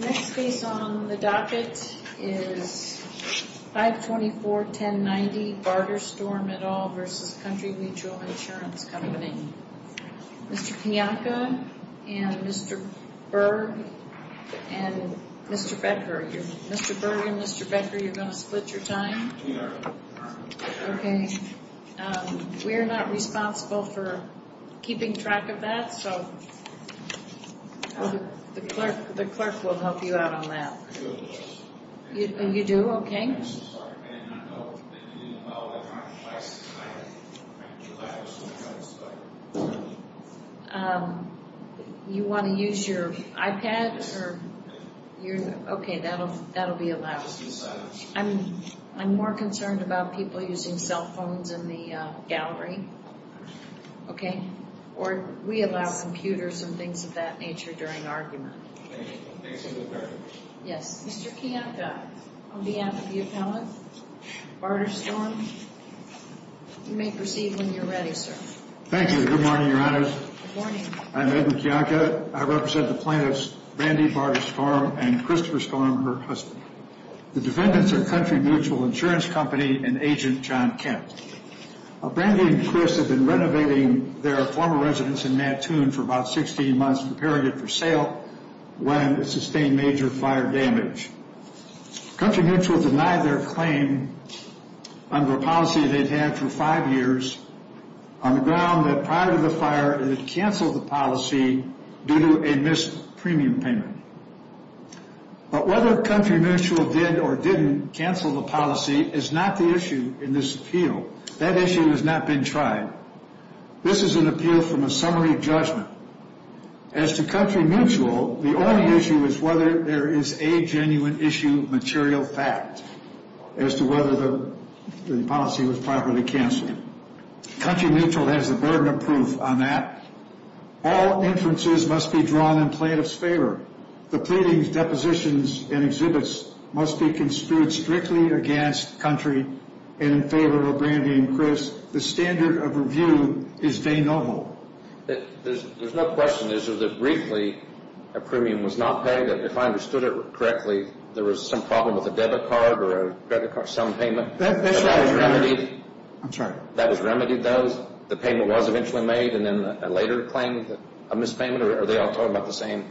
The next case on the docket is 524-1090 Barter-Storm et al. v. Country Mutual Insurance Co. Mr. Pianka and Mr. Berg and Mr. Becker. Mr. Berg and Mr. Becker, you're going to split your time? We are. I'm not responsible for keeping track of that, so the clerk will help you out on that. You do? Okay. You want to use your iPad? Okay, that'll be allowed. I'm more concerned about people using cell phones in the gallery, okay? Or we allow computers and things of that nature during argument. Thank you. Thank you, Mr. Berg. Yes. Mr. Pianka, on behalf of the appellant, Barter-Storm, you may proceed when you're ready, sir. Thank you. Good morning, Your Honors. Good morning. I'm Edmund Pianka. I represent the plaintiffs Brandi Barter-Storm and Christopher Storm, her husband. The defendants are Country Mutual Insurance Co. and Agent John Kent. Brandi and Chris have been renovating their former residence in Mattoon for about 16 months, preparing it for sale when it sustained major fire damage. Country Mutual denied their claim under a policy they'd had for five years on the ground that prior to the fire it had canceled the policy due to a missed premium payment. But whether Country Mutual did or didn't cancel the policy is not the issue in this appeal. That issue has not been tried. This is an appeal from a summary judgment. As to Country Mutual, the only issue is whether there is a genuine issue material fact as to whether the policy was properly canceled. Country Mutual has the burden of proof on that. All inferences must be drawn in plaintiff's favor. The pleadings, depositions, and exhibits must be construed strictly against Country and in favor of Brandi and Chris. The standard of review is de novo. There's no question, is there, that briefly a premium was not paid? If I understood it correctly, there was some problem with a debit card or a credit card, some payment? That's right. That was remedied? I'm sorry. That was remedied, though? The payment was eventually made and then a later claim of mispayment? Or are they all talking about the same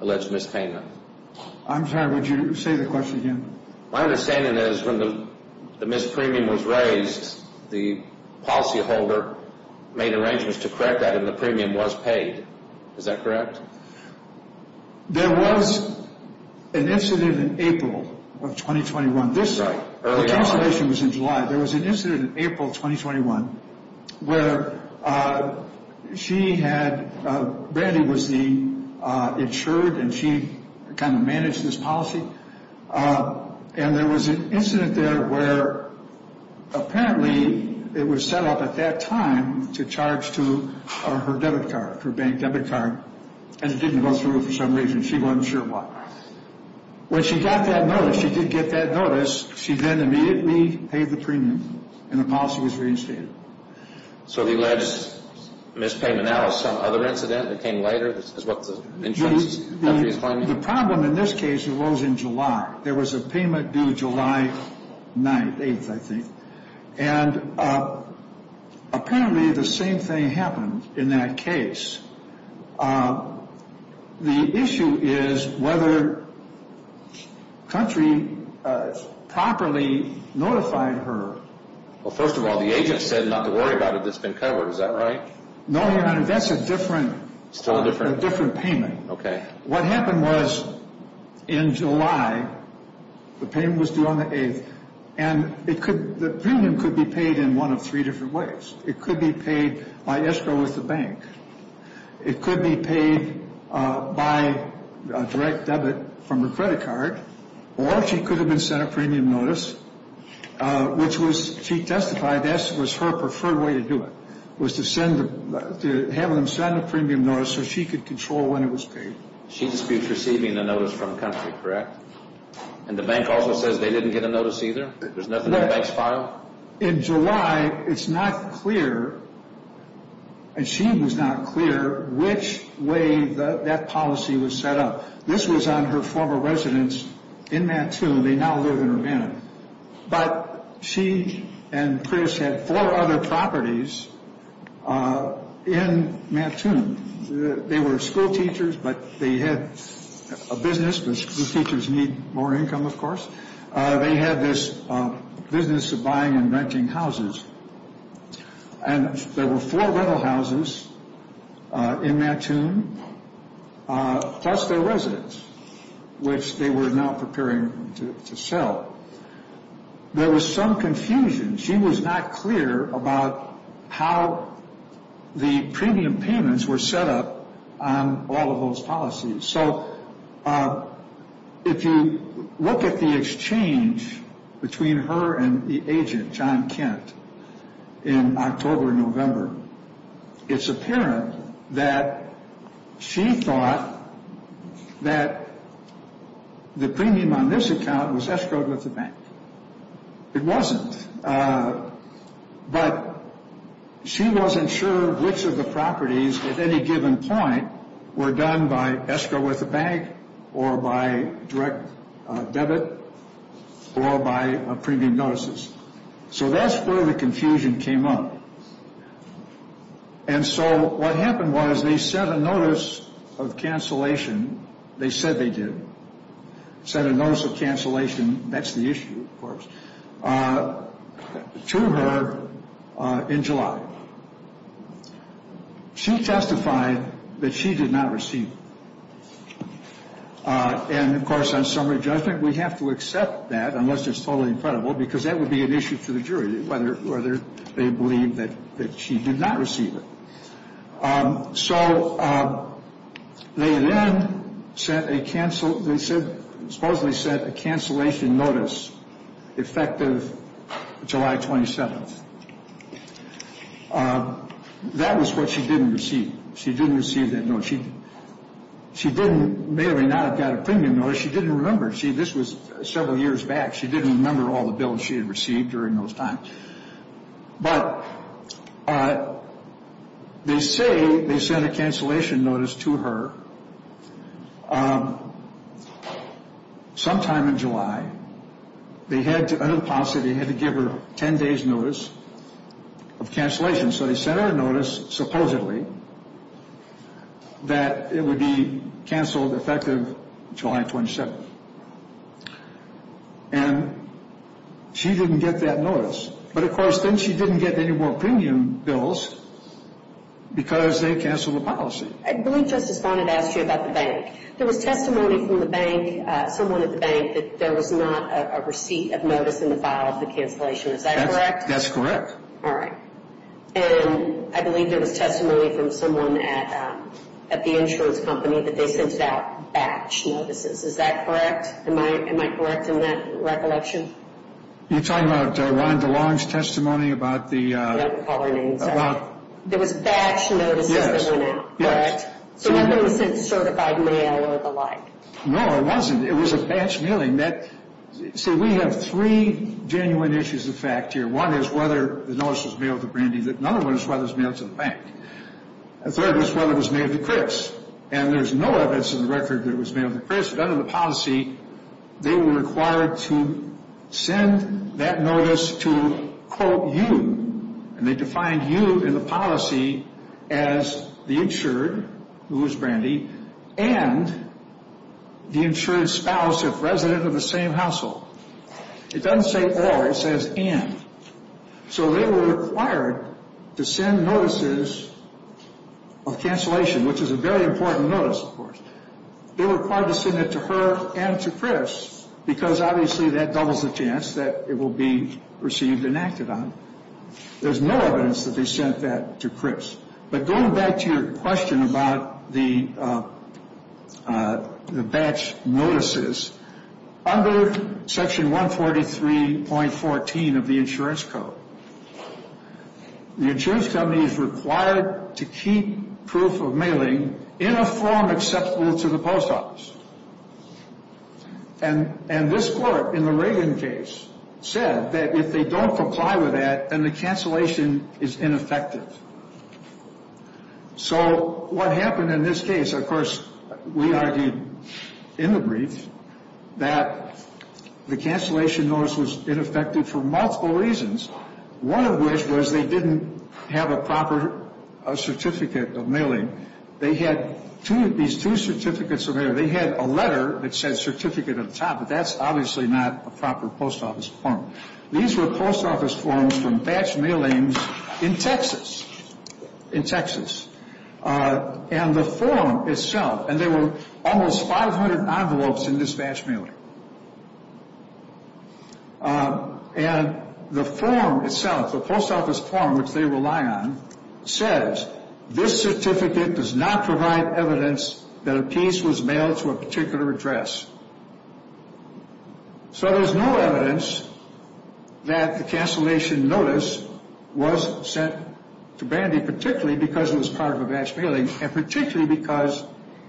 alleged mispayment? I'm sorry. Would you say the question again? My understanding is when the missed premium was raised, the policyholder made arrangements to correct that and the premium was paid. Is that correct? There was an incident in April of 2021. The cancellation was in July. There was an incident in April of 2021 where she had, Brandi was the insured, and she kind of managed this policy. And there was an incident there where apparently it was set up at that time to charge to her debit card, her bank debit card, and it didn't go through for some reason. She wasn't sure why. When she got that notice, she did get that notice, she then immediately paid the premium and the policy was reinstated. So the alleged mispayment now is some other incident that came later is what the insurance company is claiming? The problem in this case was in July. There was a payment due July 9th, 8th, I think. And apparently the same thing happened in that case. The issue is whether country properly notified her. Well, first of all, the agent said not to worry about it. It's been covered. Is that right? No, Your Honor. That's a different payment. What happened was in July, the payment was due on the 8th, and the premium could be paid in one of three different ways. It could be paid by escrow with the bank. It could be paid by a direct debit from her credit card, or she could have been sent a premium notice, which she testified that was her preferred way to do it, was to have them send a premium notice so she could control when it was paid. She disputes receiving the notice from country, correct? And the bank also says they didn't get a notice either? There's nothing in the bank's file? In July, it's not clear, and she was not clear, which way that policy was set up. This was on her former residence in Mattoon. They now live in Urbana. But she and Chris had four other properties in Mattoon. They were schoolteachers, but they had a business. Schoolteachers need more income, of course. They had this business of buying and renting houses. And there were four rental houses in Mattoon, plus their residence, which they were now preparing to sell. There was some confusion. She was not clear about how the premium payments were set up on all of those policies. So if you look at the exchange between her and the agent, John Kent, in October and November, it's apparent that she thought that the premium on this account was escrowed with the bank. It wasn't. But she wasn't sure which of the properties, at any given point, were done by escrow with the bank or by direct debit or by premium notices. So that's where the confusion came up. And so what happened was they sent a notice of cancellation. They said they did. Sent a notice of cancellation. That's the issue, of course, to her in July. She testified that she did not receive it. And, of course, on summary judgment, we have to accept that, unless it's totally incredible, because that would be an issue to the jury, whether they believe that she did not receive it. So they then supposedly sent a cancellation notice effective July 27th. That was what she didn't receive. She didn't receive that notice. She may or may not have got a premium notice. She didn't remember. This was several years back. She didn't remember all the bills she had received during those times. But they say they sent a cancellation notice to her sometime in July. Under the policy, they had to give her 10 days' notice of cancellation. So they sent her a notice, supposedly, that it would be canceled effective July 27th. And she didn't get that notice. But, of course, then she didn't get any more premium bills because they canceled the policy. I believe Justice Bonnet asked you about the bank. There was testimony from the bank, someone at the bank, that there was not a receipt of notice in the file of the cancellation. Is that correct? That's correct. All right. And I believe there was testimony from someone at the insurance company that they sent out batch notices. Is that correct? Am I correct in that recollection? You're talking about Rhonda Long's testimony about the— Yeah, I'll call her name. About— There was batch notices that went out, correct? So that means it's certified mail or the like. No, it wasn't. It was a batch mailing. See, we have three genuine issues of fact here. One is whether the notice was mailed to Brandy. Another one is whether it was mailed to the bank. A third was whether it was mailed to Chris. And there's no evidence in the record that it was mailed to Chris. But under the policy, they were required to send that notice to, quote, you. And they defined you in the policy as the insured, who was Brandy, and the insured spouse if resident of the same household. It doesn't say all. It says and. So they were required to send notices of cancellation, which is a very important notice, of course. They were required to send it to her and to Chris because, obviously, that doubles the chance that it will be received and acted on. There's no evidence that they sent that to Chris. But going back to your question about the batch notices, under Section 143.14 of the Insurance Code, the insurance company is required to keep proof of mailing in a form acceptable to the post office. And this court, in the Reagan case, said that if they don't comply with that, then the cancellation is ineffective. So what happened in this case, of course, we argued in the brief, that the cancellation notice was ineffective for multiple reasons, one of which was they didn't have a proper certificate of mailing. They had these two certificates of mail. They had a letter that said certificate at the top, but that's obviously not a proper post office form. These were post office forms from batch mailings in Texas, in Texas. And the form itself, and there were almost 500 envelopes in this batch mailing. And the form itself, the post office form, which they rely on, says this certificate does not provide evidence that a piece was mailed to a particular address. So there's no evidence that the cancellation notice was sent to Brandy, particularly because it was part of a batch mailing, and particularly because,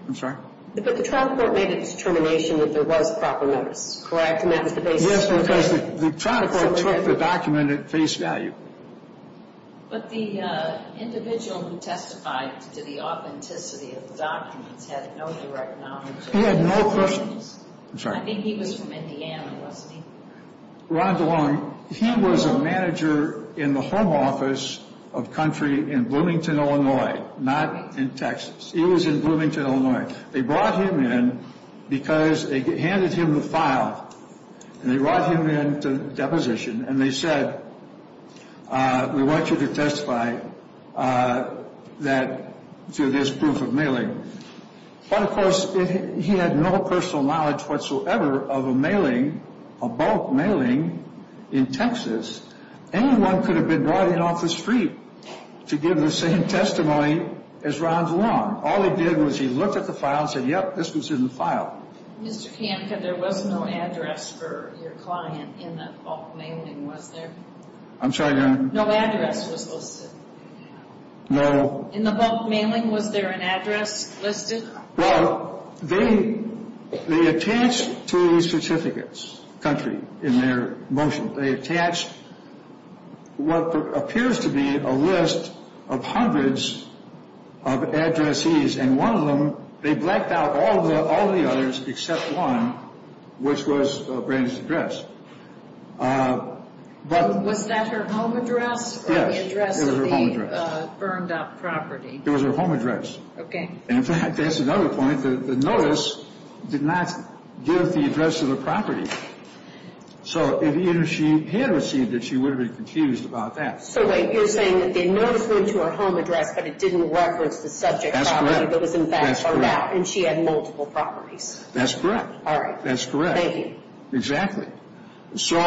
I'm sorry? But the trial court made a determination that there was proper notice, correct? Yes, because the trial court took the document at face value. But the individual who testified to the authenticity of the documents had no direct knowledge of the individuals? He had no questions. I think he was from Indiana, wasn't he? Ron DeLong, he was a manager in the home office of Country in Bloomington, Illinois, not in Texas. He was in Bloomington, Illinois. They brought him in because they handed him the file, and they brought him in to deposition, and they said, we want you to testify to this proof of mailing. But, of course, he had no personal knowledge whatsoever of a mailing, a bulk mailing in Texas. Anyone could have been riding off the street to give the same testimony as Ron DeLong. All he did was he looked at the file and said, yep, this was in the file. Mr. Kanka, there was no address for your client in the bulk mailing, was there? I'm sorry, Your Honor? No address was listed? No. In the bulk mailing, was there an address listed? Well, they attached to the certificates, Country, in their motion, they attached what appears to be a list of hundreds of addressees, and one of them they blacked out all the others except one, which was Brandi's address. Was that her home address or the address of the burned-up property? It was her home address. Okay. In fact, that's another point. The notice did not give the address of the property. So, if either she had received it, she would have been confused about that. So, wait, you're saying that the notice went to her home address, but it didn't reference the subject property. That was in fact her map, and she had multiple properties. That's correct. All right. That's correct. Thank you. Exactly. So,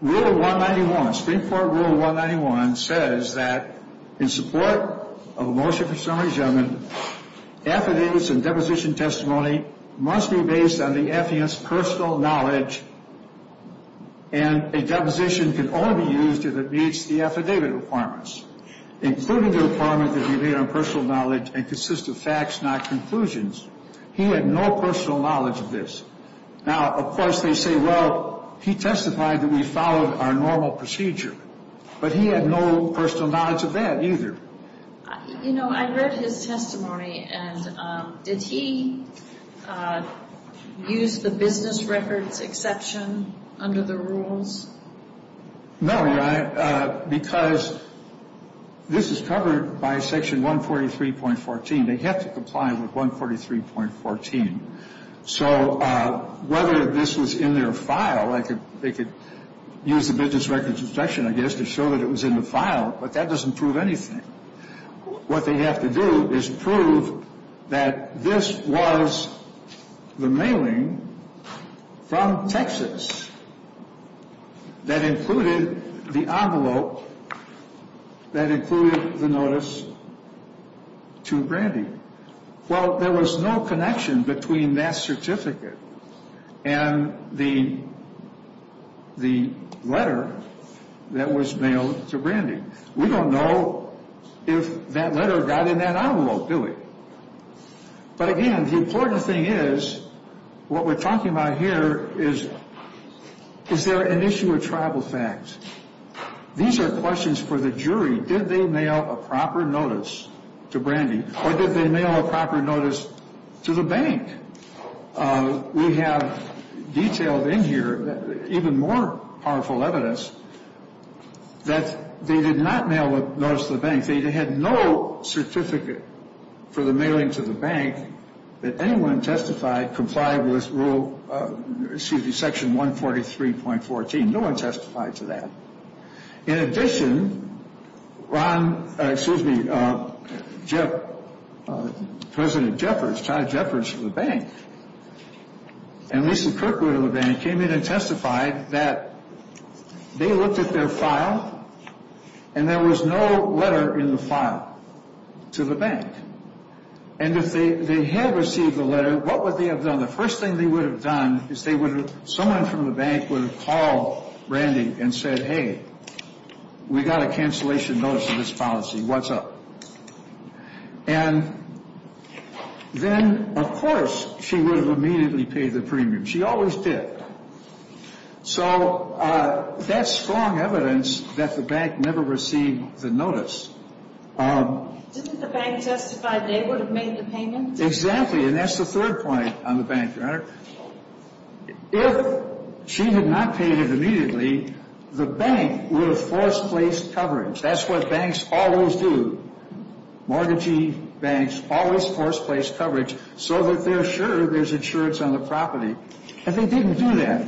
Rule 191, Spring-Ford Rule 191 says that in support of a motion for summary judgment, affidavits and deposition testimony must be based on the affidavit's personal knowledge, and a deposition can only be used if it meets the affidavit requirements, including the requirement that it be based on personal knowledge and consist of facts, not conclusions. He had no personal knowledge of this. Now, of course, they say, well, he testified that we followed our normal procedure, but he had no personal knowledge of that either. You know, I read his testimony, and did he use the business records exception under the rules? No, because this is covered by Section 143.14. They have to comply with 143.14. So whether this was in their file, they could use the business records exception, I guess, to show that it was in the file, but that doesn't prove anything. What they have to do is prove that this was the mailing from Texas that included the envelope that included the notice to Brandy. Well, there was no connection between that certificate and the letter that was mailed to Brandy. We don't know if that letter got in that envelope, do we? But again, the important thing is, what we're talking about here is, is there an issue of tribal facts? These are questions for the jury. Did they mail a proper notice to Brandy, or did they mail a proper notice to the bank? We have detailed in here even more powerful evidence that they did not mail a notice to the bank. They had no certificate for the mailing to the bank that anyone testified complied with rule, excuse me, Section 143.14. No one testified to that. In addition, Ron, excuse me, President Jeffords, Todd Jeffords of the bank, and Lisa Kirkwood of the bank, came in and testified that they looked at their file, and there was no letter in the file to the bank. And if they had received the letter, what would they have done? The first thing they would have done is someone from the bank would have called Brandy and said, hey, we got a cancellation notice of this policy. What's up? And then, of course, she would have immediately paid the premium. She always did. So that's strong evidence that the bank never received the notice. Didn't the bank justify they would have made the payment? Exactly, and that's the third point on the bank, Your Honor. If she had not paid it immediately, the bank would have forced-placed coverage. That's what banks always do. Mortgagee banks always force-place coverage so that they're sure there's insurance on the property. If they didn't do that,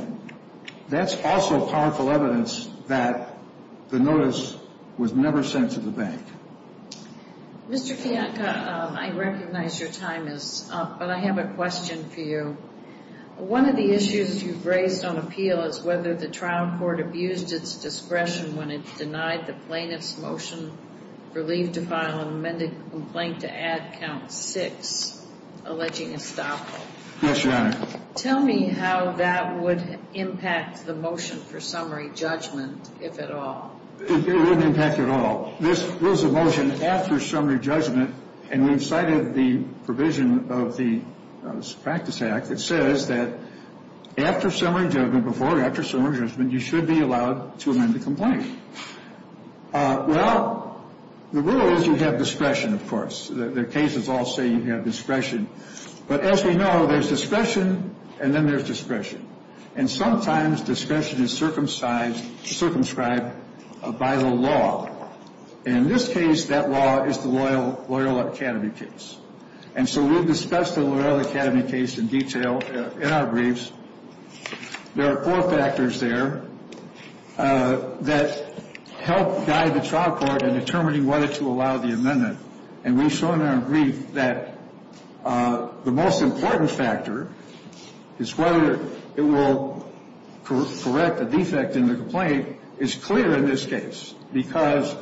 that's also powerful evidence that the notice was never sent to the bank. Mr. Kiatka, I recognize your time is up, but I have a question for you. One of the issues you've raised on appeal is whether the trial court abused its discretion when it denied the plaintiff's motion for leave to file an amended complaint to add Count 6, alleging estoppel. Yes, Your Honor. Tell me how that would impact the motion for summary judgment, if at all. It wouldn't impact it at all. Well, this was a motion after summary judgment, and we've cited the provision of the Practice Act that says that after summary judgment, before or after summary judgment, you should be allowed to amend the complaint. Well, the rule is you have discretion, of course. The cases all say you have discretion. But as we know, there's discretion, and then there's discretion. And sometimes discretion is circumscribed by the law. And in this case, that law is the Loyola Academy case. And so we've discussed the Loyola Academy case in detail in our briefs. There are four factors there that help guide the trial court in determining whether to allow the amendment. And we've shown in our brief that the most important factor is whether it will correct a defect in the complaint. It's clear in this case because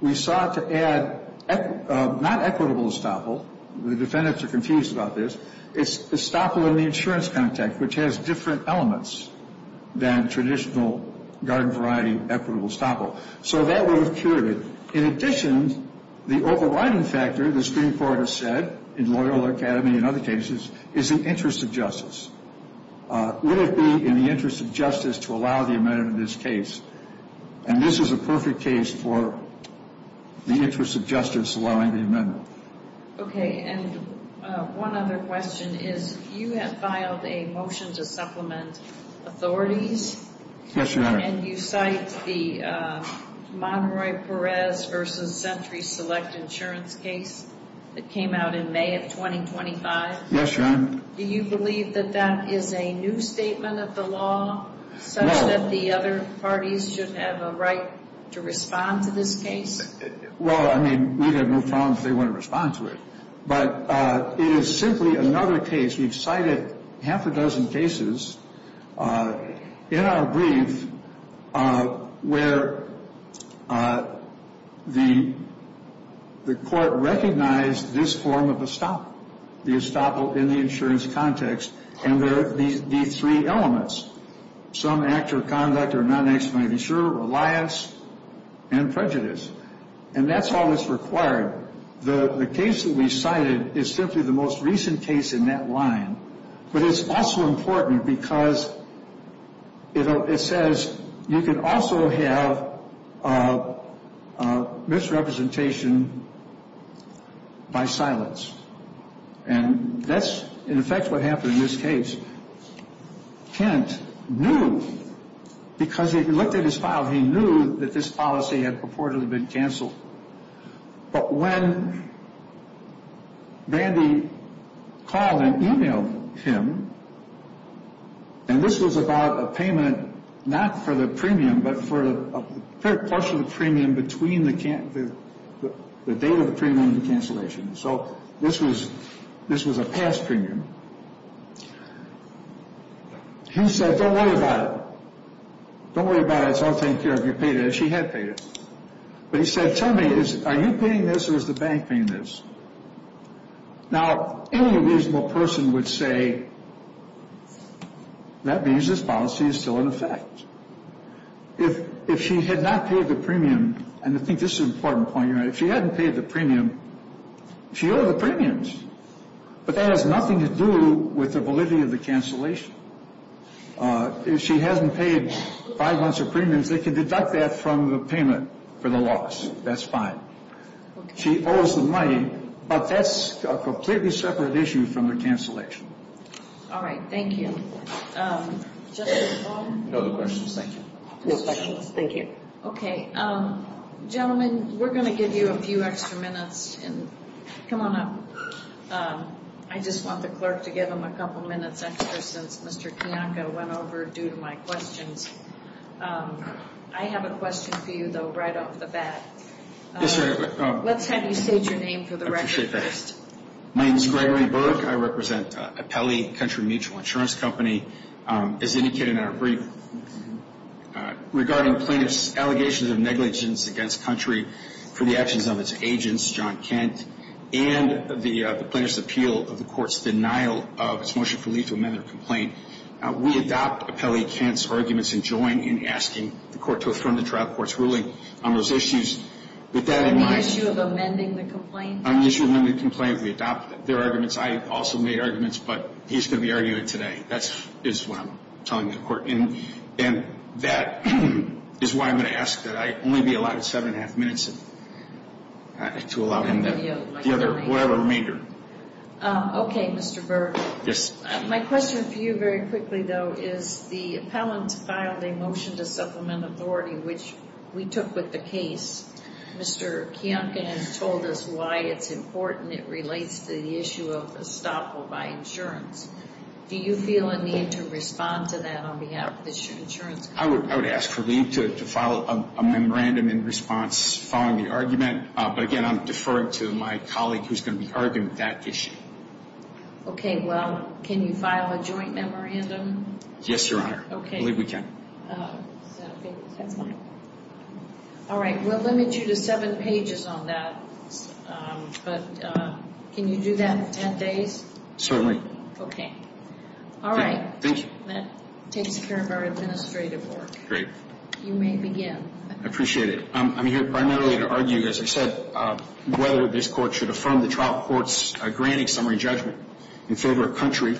we sought to add not equitable estoppel. The defendants are confused about this. It's estoppel in the insurance context, which has different elements than traditional garden variety equitable estoppel. So that would have cured it. In addition, the overriding factor, the Supreme Court has said, in Loyola Academy and other cases, is the interest of justice. Would it be in the interest of justice to allow the amendment in this case? And this is a perfect case for the interest of justice allowing the amendment. Okay. And one other question is you have filed a motion to supplement authorities. Yes, Your Honor. And you cite the Monroy-Perez v. Century Select Insurance case that came out in May of 2025. Yes, Your Honor. Do you believe that that is a new statement of the law such that the other parties should have a right to respond to this case? Well, I mean, we have no problem if they want to respond to it. But it is simply another case. We've cited half a dozen cases in our brief where the court recognized this form of estoppel, the estoppel in the insurance context, and there are these three elements, some act or conduct or non-action of an insurer, reliance, and prejudice. And that's all that's required. The case that we cited is simply the most recent case in that line. But it's also important because it says you can also have misrepresentation by silence. And that's, in effect, what happened in this case. Kent knew because he looked at his file. He knew that this policy had purportedly been canceled. But when Brandy called and emailed him, and this was about a payment not for the premium but for a partial premium between the date of the premium and the cancellation. So this was a past premium. He said, don't worry about it. Don't worry about it. It's all taken care of. You paid it. She had paid it. But he said, tell me, are you paying this or is the bank paying this? Now, any reasonable person would say that means this policy is still in effect. If she had not paid the premium, and I think this is an important point. If she hadn't paid the premium, she owed the premiums. But that has nothing to do with the validity of the cancellation. If she hasn't paid five months of premiums, they can deduct that from the payment for the loss. That's fine. She owes the money, but that's a completely separate issue from the cancellation. All right. Thank you. No other questions? Thank you. No questions. Thank you. Okay. Gentlemen, we're going to give you a few extra minutes. Come on up. I just want the clerk to give him a couple minutes extra since Mr. Kiyanka went over due to my questions. I have a question for you, though, right off the bat. Yes, sir. Let's have you state your name for the record first. My name is Gregory Burke. I represent Apelli Country Mutual Insurance Company. As indicated in our brief, regarding plaintiff's allegations of negligence against Country for the actions of its agents, John Kent, and the plaintiff's appeal of the court's denial of its motion for leave to amend their complaint, we adopt Apelli Kent's arguments and join in asking the court to affirm the trial court's ruling on those issues. With that in mind — On the issue of amending the complaint? On the issue of amending the complaint, we adopt their arguments. I also made arguments, but he's going to be arguing it today. That is what I'm telling the court. And that is why I'm going to ask that I only be allowed seven and a half minutes to allow him whatever remainder. Okay, Mr. Burke. Yes. My question for you very quickly, though, is the appellant filed a motion to supplement authority, which we took with the case. Mr. Kiyanka has told us why it's important. It relates to the issue of estoppel by insurance. Do you feel a need to respond to that on behalf of the insurance company? I would ask for leave to file a memorandum in response, following the argument. But, again, I'm deferring to my colleague, who's going to be arguing that issue. Okay. Well, can you file a joint memorandum? Yes, Your Honor. Okay. I believe we can. Is that okay? That's fine. All right. We'll limit you to seven pages on that. But can you do that in 10 days? Certainly. Okay. All right. Thank you. That takes care of our administrative work. Great. You may begin. I appreciate it. I'm here primarily to argue, as I said, whether this Court should affirm the trial court's granting summary judgment in favor of country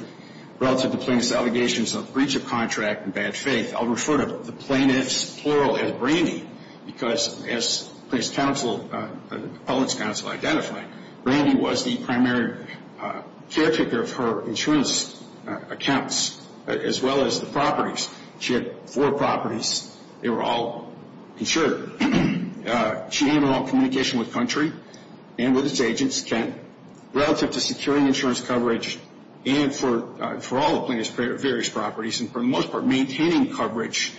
relative to plaintiff's allegations of breach of contract and bad faith. I'll refer to the plaintiff's plural as Brandy because, as the appellant's counsel identified, Brandy was the primary caretaker of her insurance accounts as well as the properties. She had four properties. They were all insured. She had all communication with country and with its agents, relative to securing insurance coverage and for all the plaintiff's various properties and, for the most part, maintaining coverage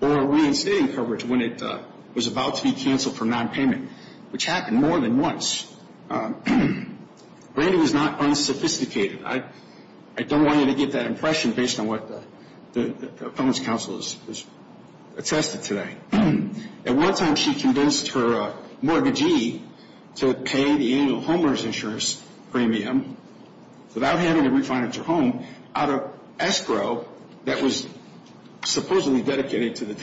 or reinstating coverage when it was about to be canceled for nonpayment, which happened more than once. Brandy was not unsophisticated. I don't want you to get that impression based on what the appellant's counsel has attested today. At one time she convinced her mortgagee to pay the annual homeowner's insurance premium without having to refinance her home out of escrow that was supposedly dedicated to the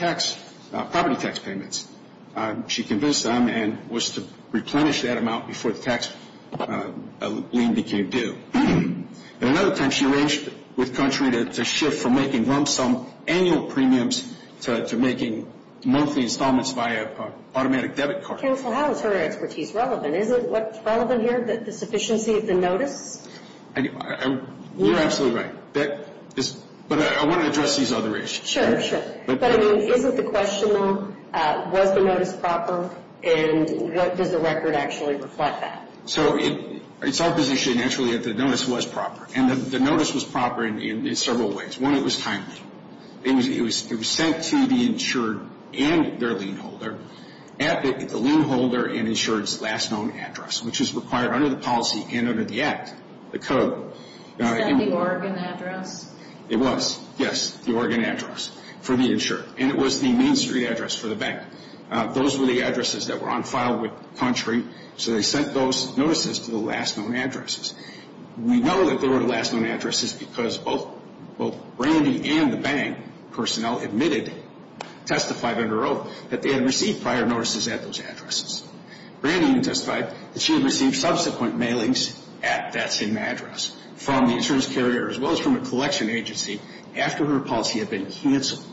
property tax payments. She convinced them and was to replenish that amount before the tax lien became due. At another time she arranged with country to shift from making lump sum annual premiums to making monthly installments via automatic debit card. Counsel, how is her expertise relevant? Is it relevant here, the sufficiency of the notice? You're absolutely right. But I want to address these other issues. Sure, sure. But, I mean, isn't the question, though, was the notice proper and does the record actually reflect that? So it's our position, actually, that the notice was proper. And the notice was proper in several ways. One, it was timely. It was sent to the insured and their lien holder at the lien holder and insured's last known address, which is required under the policy and under the Act, the code. Is that the Oregon address? It was, yes, the Oregon address. For the insured. And it was the Main Street address for the bank. Those were the addresses that were on file with country, so they sent those notices to the last known addresses. We know that they were the last known addresses because both Brandi and the bank personnel admitted, testified under oath, that they had received prior notices at those addresses. Brandi even testified that she had received subsequent mailings at that same address from the insurance carrier as well as from a collection agency after her policy had been canceled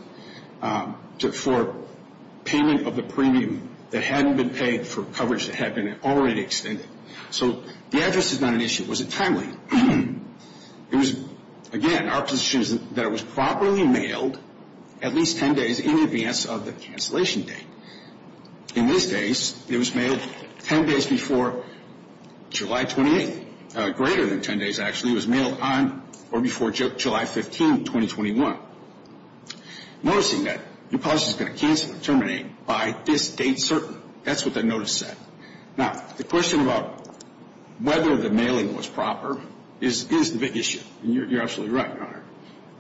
for payment of the premium that hadn't been paid for coverage that had been already extended. So the address is not an issue. Was it timely? It was, again, our position is that it was properly mailed at least ten days in advance of the cancellation date. In these days, it was mailed ten days before July 28th. Greater than ten days, actually. It was mailed on or before July 15th, 2021. Noticing that your policy is going to cancel or terminate by this date certain. That's what the notice said. Now, the question about whether the mailing was proper is the big issue, and you're absolutely right, Your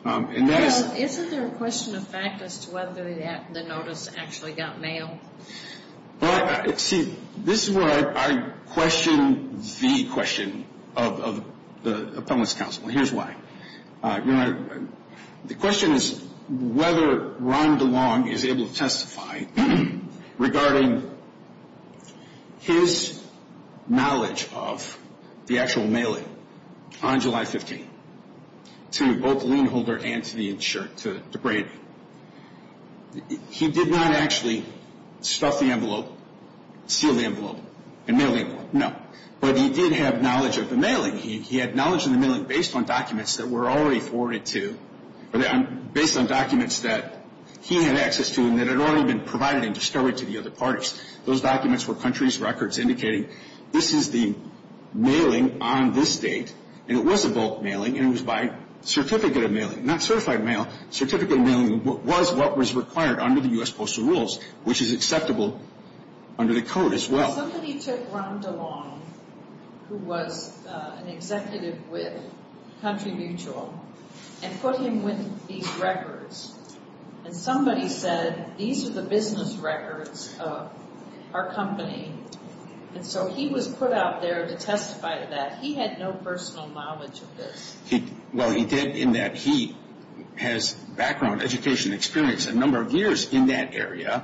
Honor. Isn't there a question of fact as to whether the notice actually got mailed? See, this is where I question the question of the Appellant's counsel, and here's why. The question is whether Ron DeLong is able to testify regarding his knowledge of the actual mailing on July 15th to both the lien holder and to Brady. He did not actually stuff the envelope, seal the envelope, and mail the envelope, no. But he did have knowledge of the mailing. He had knowledge of the mailing based on documents that were already forwarded to, based on documents that he had access to and that had already been provided and discovered to the other parties. Those documents were country's records indicating this is the mailing on this date, and it was a bulk mailing, and it was by certificate of mailing, not certified mail. Certificate of mailing was what was required under the U.S. Postal Rules, which is acceptable under the Code as well. Somebody took Ron DeLong, who was an executive with Country Mutual, and put him with these records, and somebody said, these are the business records of our company. And so he was put out there to testify to that. He had no personal knowledge of this. Well, he did in that he has background, education, experience, a number of years in that area,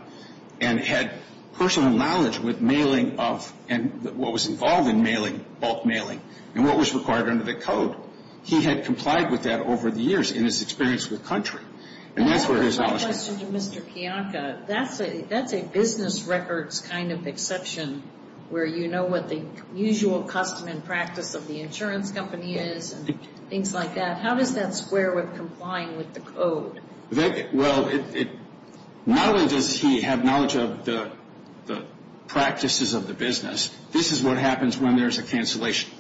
and had personal knowledge with mailing of, and what was involved in mailing, bulk mailing, and what was required under the Code. He had complied with that over the years in his experience with Country. And that's where his knowledge came from. I have a question to Mr. Kiyonka. That's a business records kind of exception where you know what the usual custom and practice of the insurance company is and things like that. How does that square with complying with the Code? Well, not only does he have knowledge of the practices of the business, this is what happens when there's a cancellation.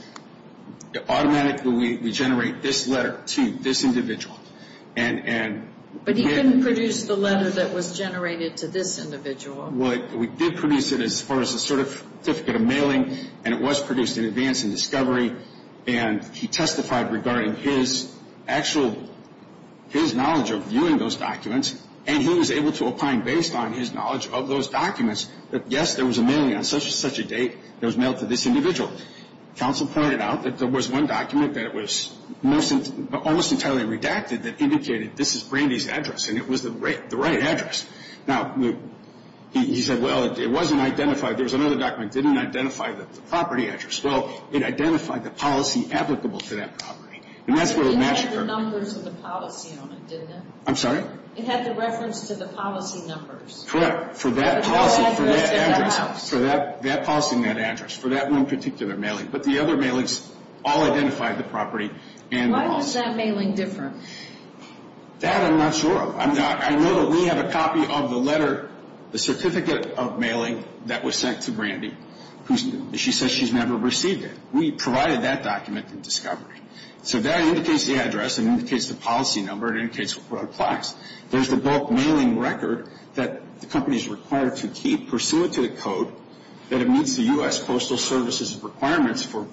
Automatically we generate this letter to this individual. But he couldn't produce the letter that was generated to this individual. We did produce it as far as a certificate of mailing, and it was produced in advance in discovery. And he testified regarding his actual, his knowledge of viewing those documents, and he was able to opine based on his knowledge of those documents that, yes, there was a mailing on such and such a date that was mailed to this individual. Counsel pointed out that there was one document that was almost entirely redacted that indicated this is Brandy's address, and it was the right address. Now, he said, well, it wasn't identified. There was another document that didn't identify the property address. Well, it identified the policy applicable to that property. And that's where the match occurred. It had the numbers of the policy on it, didn't it? I'm sorry? It had the reference to the policy numbers. Correct. For that policy, for that address. For that policy and that address. For that one particular mailing. But the other mailings all identified the property and the policy. Why was that mailing different? That I'm not sure of. I know that we have a copy of the letter, the certificate of mailing that was sent to Brandy. She says she's never received it. We provided that document in discovery. So that indicates the address. It indicates the policy number. It indicates what applies. There's the bulk mailing record that the company is required to keep pursuant to the code that it meets the U.S. Postal Service's requirements for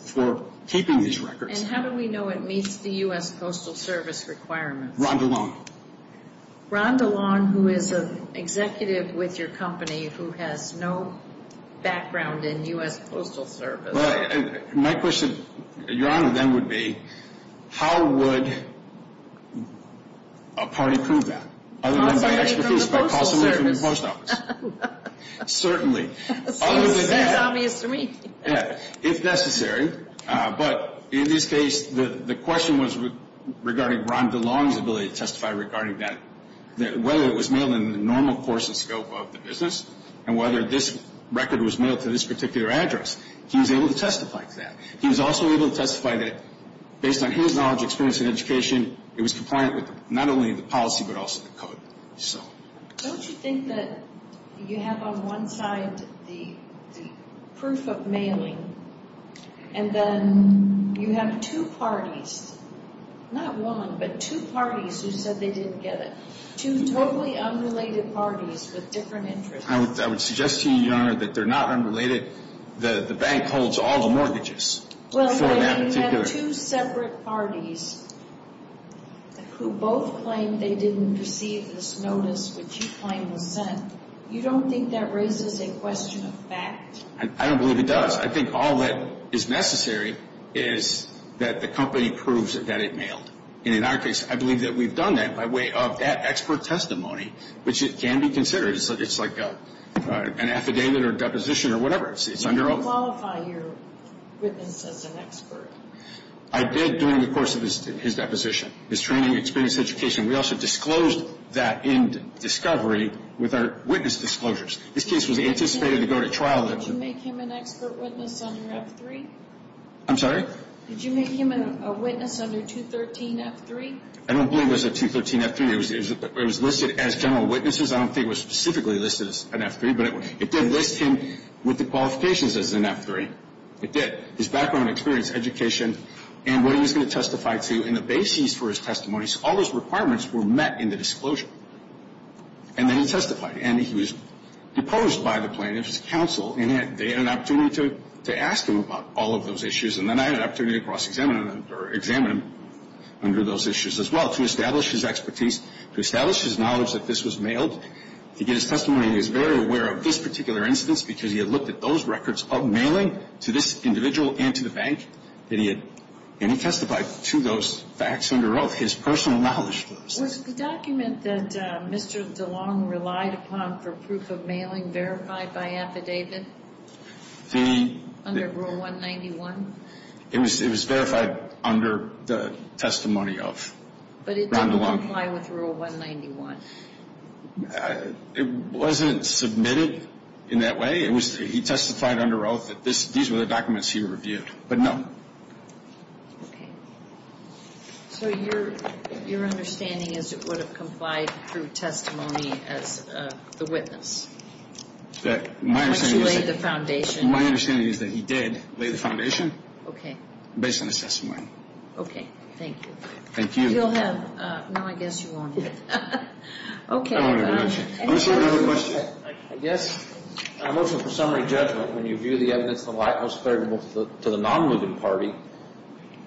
keeping these records. And how do we know it meets the U.S. Postal Service requirements? Rond alone. Rond alone, who is an executive with your company who has no background in U.S. Postal Service. My question, Your Honor, then would be how would a party prove that? Possibly from the Postal Service. Certainly. That's obvious to me. If necessary. But in this case, the question was regarding Rond alone's ability to testify regarding that, whether it was mailed in the normal course and scope of the business and whether this record was mailed to this particular address. He was able to testify to that. He was also able to testify that based on his knowledge, experience, and education, it was compliant with not only the policy but also the code. Don't you think that you have on one side the proof of mailing and then you have two parties, not one, but two parties who said they didn't get it, two totally unrelated parties with different interests. I would suggest to you, Your Honor, that they're not unrelated. The bank holds all the mortgages for that particular. If there are two separate parties who both claim they didn't receive this notice which you claim was sent, you don't think that raises a question of fact? I don't believe it does. I think all that is necessary is that the company proves that it mailed. And in our case, I believe that we've done that by way of that expert testimony, which can be considered. It's like an affidavit or a deposition or whatever. You didn't qualify your witness as an expert. I did during the course of his deposition, his training, experience, education. We also disclosed that in discovery with our witness disclosures. This case was anticipated to go to trial. Did you make him an expert witness under F-3? I'm sorry? Did you make him a witness under 213 F-3? I don't believe it was a 213 F-3. It was listed as general witnesses. I don't think it was specifically listed as an F-3, but it did list him with the qualifications as an F-3. It did. His background, experience, education, and what he was going to testify to, and the basis for his testimony. So all those requirements were met in the disclosure. And then he testified. And he was deposed by the plaintiff's counsel, and they had an opportunity to ask him about all of those issues. And then I had an opportunity to cross-examine him under those issues as well, to establish his expertise, to establish his knowledge that this was mailed. To get his testimony, he was very aware of this particular incident because he had looked at those records of mailing to this individual and to the bank. And he testified to those facts under oath, his personal knowledge. Was the document that Mr. DeLong relied upon for proof of mailing verified by affidavit under Rule 191? It was verified under the testimony of Ron DeLong. But it didn't comply with Rule 191? It wasn't submitted in that way. He testified under oath that these were the documents he reviewed, but no. Okay. So your understanding is it would have complied through testimony as the witness? My understanding is that he did lay the foundation based on his testimony. Okay, thank you. Thank you. You'll have. No, I guess you won't. Okay. I have another question. I guess a motion for summary judgment, when you view the evidence in the light most favorable to the non-moving party,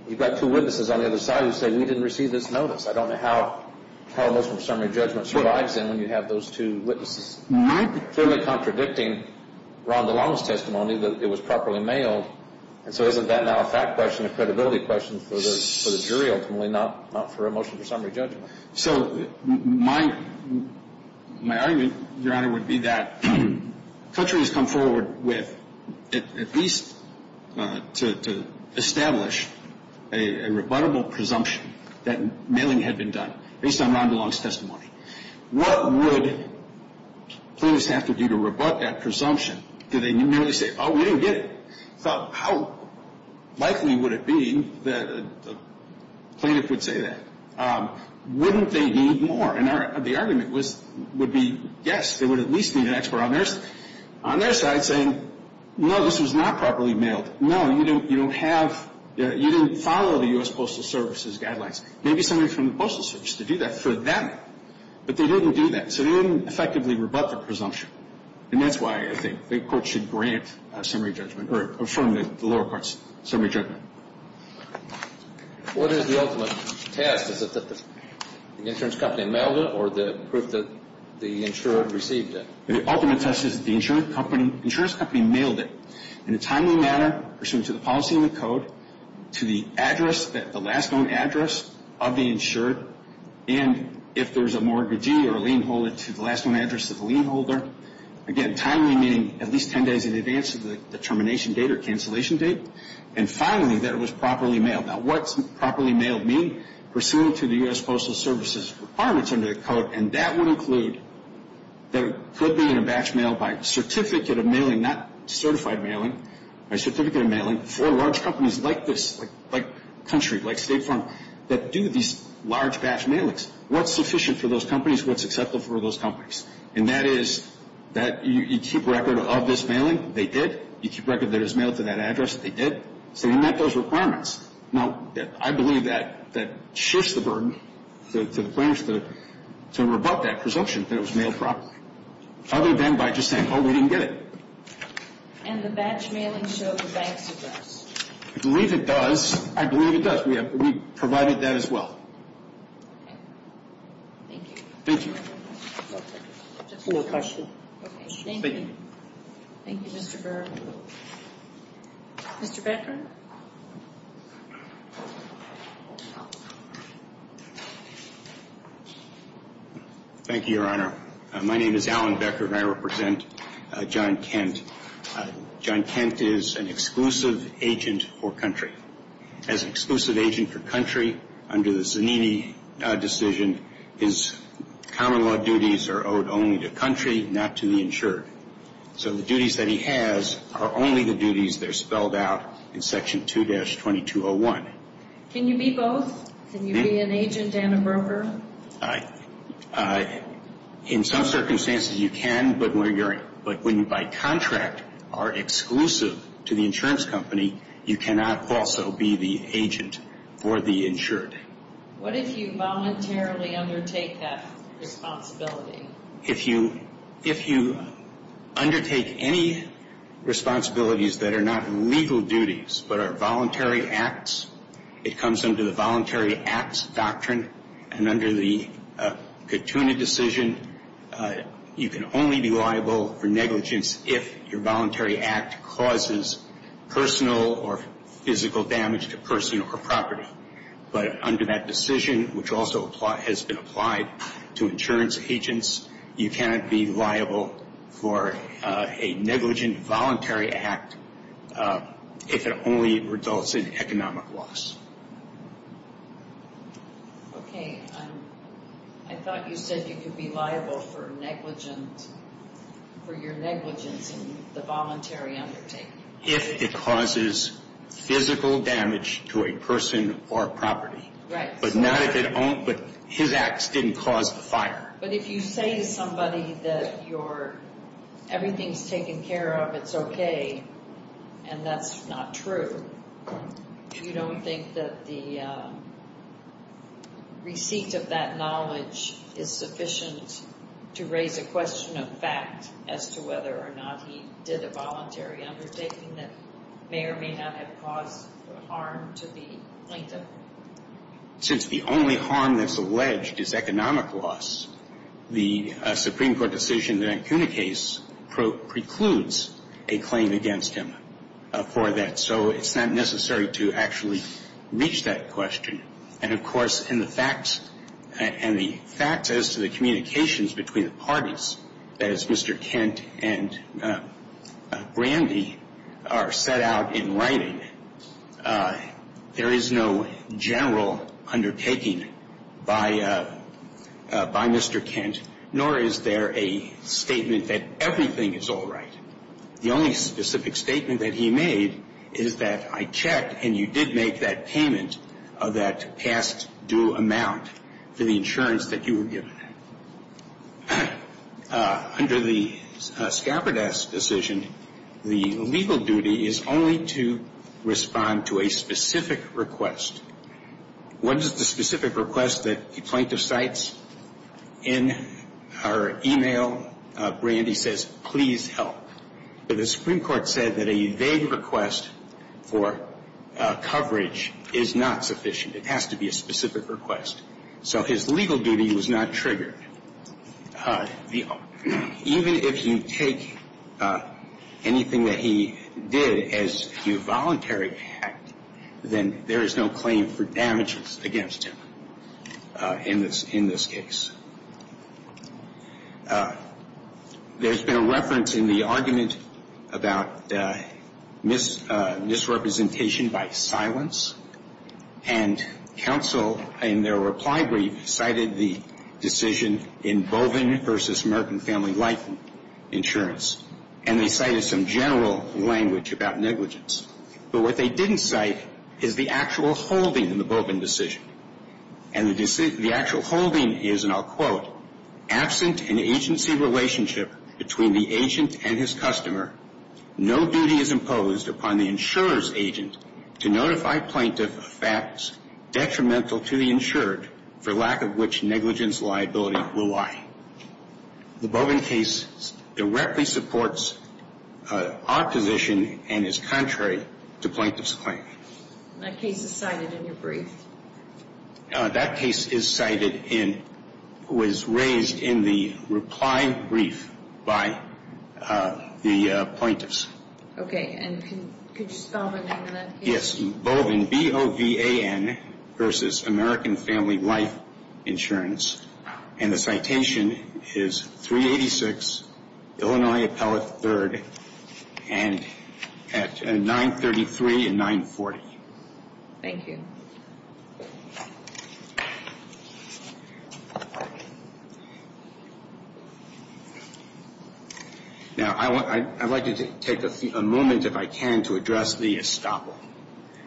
you've got two witnesses on the other side who say, we didn't receive this notice. I don't know how a motion for summary judgment survives then when you have those two witnesses clearly contradicting Ron DeLong's testimony that it was properly mailed. And so isn't that now a fact question, a credibility question for the jury ultimately, not for a motion for summary judgment? So my argument, Your Honor, would be that the country has come forward with at least to establish a rebuttable presumption that mailing had been done based on Ron DeLong's testimony. What would plaintiffs have to do to rebut that presumption? Did they merely say, oh, we didn't get it? How likely would it be that a plaintiff would say that? Wouldn't they need more? And the argument would be, yes, they would at least need an expert on their side saying, no, this was not properly mailed. No, you didn't follow the U.S. Postal Service's guidelines. Maybe somebody from the Postal Service could do that for them. But they didn't do that. So they didn't effectively rebut the presumption. And that's why I think the court should grant a summary judgment or affirm the lower court's summary judgment. What is the ultimate test? Is it that the insurance company mailed it or the proof that the insured received it? The ultimate test is that the insurance company mailed it in a timely manner, pursuant to the policy and the code, to the address, the last known address of the insured. And if there's a mortgagee or a lien holder, to the last known address of the lien holder. Again, timely, meaning at least 10 days in advance of the termination date or cancellation date. And finally, that it was properly mailed. Now, what does properly mailed mean? Pursuant to the U.S. Postal Service's requirements under the code, and that would include that it could be in a batch mailed by certificate of mailing, not certified mailing, by certificate of mailing for large companies like this, like Country, like State Farm, that do these large batch mailings. What's sufficient for those companies? What's acceptable for those companies? And that is that you keep record of this mailing. They did. You keep record that it was mailed to that address. They did. So you met those requirements. Now, I believe that shifts the burden to the plaintiffs to rebut that presumption that it was mailed properly, other than by just saying, oh, we didn't get it. And the batch mailing showed the bank's address. I believe it does. I believe it does. We provided that as well. Okay. Thank you. Thank you. Just one more question. Okay. Thank you. Thank you, Mr. Bergeron. Mr. Becker? Thank you, Your Honor. My name is Alan Becker, and I represent John Kent. John Kent is an exclusive agent for Country. As an exclusive agent for Country, under the Zanini decision, his common law duties are owed only to Country, not to the insured. So the duties that he has are only the duties that are spelled out in Section 2-2201. Can you be both? Can you be an agent and a broker? In some circumstances, you can, but when you're by contract are exclusive to the insurance company, you cannot also be the agent for the insured. What if you voluntarily undertake that responsibility? If you undertake any responsibilities that are not legal duties but are voluntary acts, it comes under the Voluntary Acts Doctrine, and under the Katuna decision, you can only be liable for negligence if your voluntary act causes personal or physical damage to personal or property. But under that decision, which also has been applied to insurance agents, you cannot be liable for a negligent voluntary act if it only results in economic loss. Okay. I thought you said you could be liable for negligence, for your negligence in the voluntary undertaking. If it causes physical damage to a person or property. Right. But his acts didn't cause the fire. But if you say to somebody that everything's taken care of, it's okay, and that's not true, you don't think that the receipt of that knowledge is sufficient to raise a question of fact as to whether or not he did a voluntary undertaking that may or may not have caused harm to the plaintiff. Since the only harm that's alleged is economic loss, the Supreme Court decision in the Katuna case precludes a claim against him for that. So it's not necessary to actually reach that question. And, of course, in the facts and the facts as to the communications between the parties, as Mr. Kent and Brandy are set out in writing, there is no general undertaking by Mr. Kent, nor is there a statement that everything is all right. The only specific statement that he made is that I checked And you did make that payment of that past due amount for the insurance that you were given. Under the Scaberdas decision, the legal duty is only to respond to a specific request. What is the specific request that the plaintiff cites? In her e-mail, Brandy says, please help. The Supreme Court said that a vague request for coverage is not sufficient. It has to be a specific request. So his legal duty was not triggered. Even if you take anything that he did as a voluntary act, then there is no claim for damages against him in this case. There's been a reference in the argument about misrepresentation by silence. And counsel, in their reply brief, cited the decision in Boven v. American Family Life Insurance. And they cited some general language about negligence. But what they didn't cite is the actual holding in the Boven decision. And the actual holding is, and I'll quote, absent an agency relationship between the agent and his customer, no duty is imposed upon the insurer's agent to notify plaintiff of facts detrimental to the insured, for lack of which negligence liability will lie. The Boven case directly supports our position and is contrary to plaintiff's claim. That case is cited in your brief. That case is cited in, was raised in the reply brief by the plaintiffs. Okay, and could you spell the name of that case? Yes, Boven, B-O-V-A-N, versus American Family Life Insurance. And the citation is 386, Illinois Appellate III, and at 933 and 940. Thank you. Now, I'd like to take a moment, if I can, to address the estoppel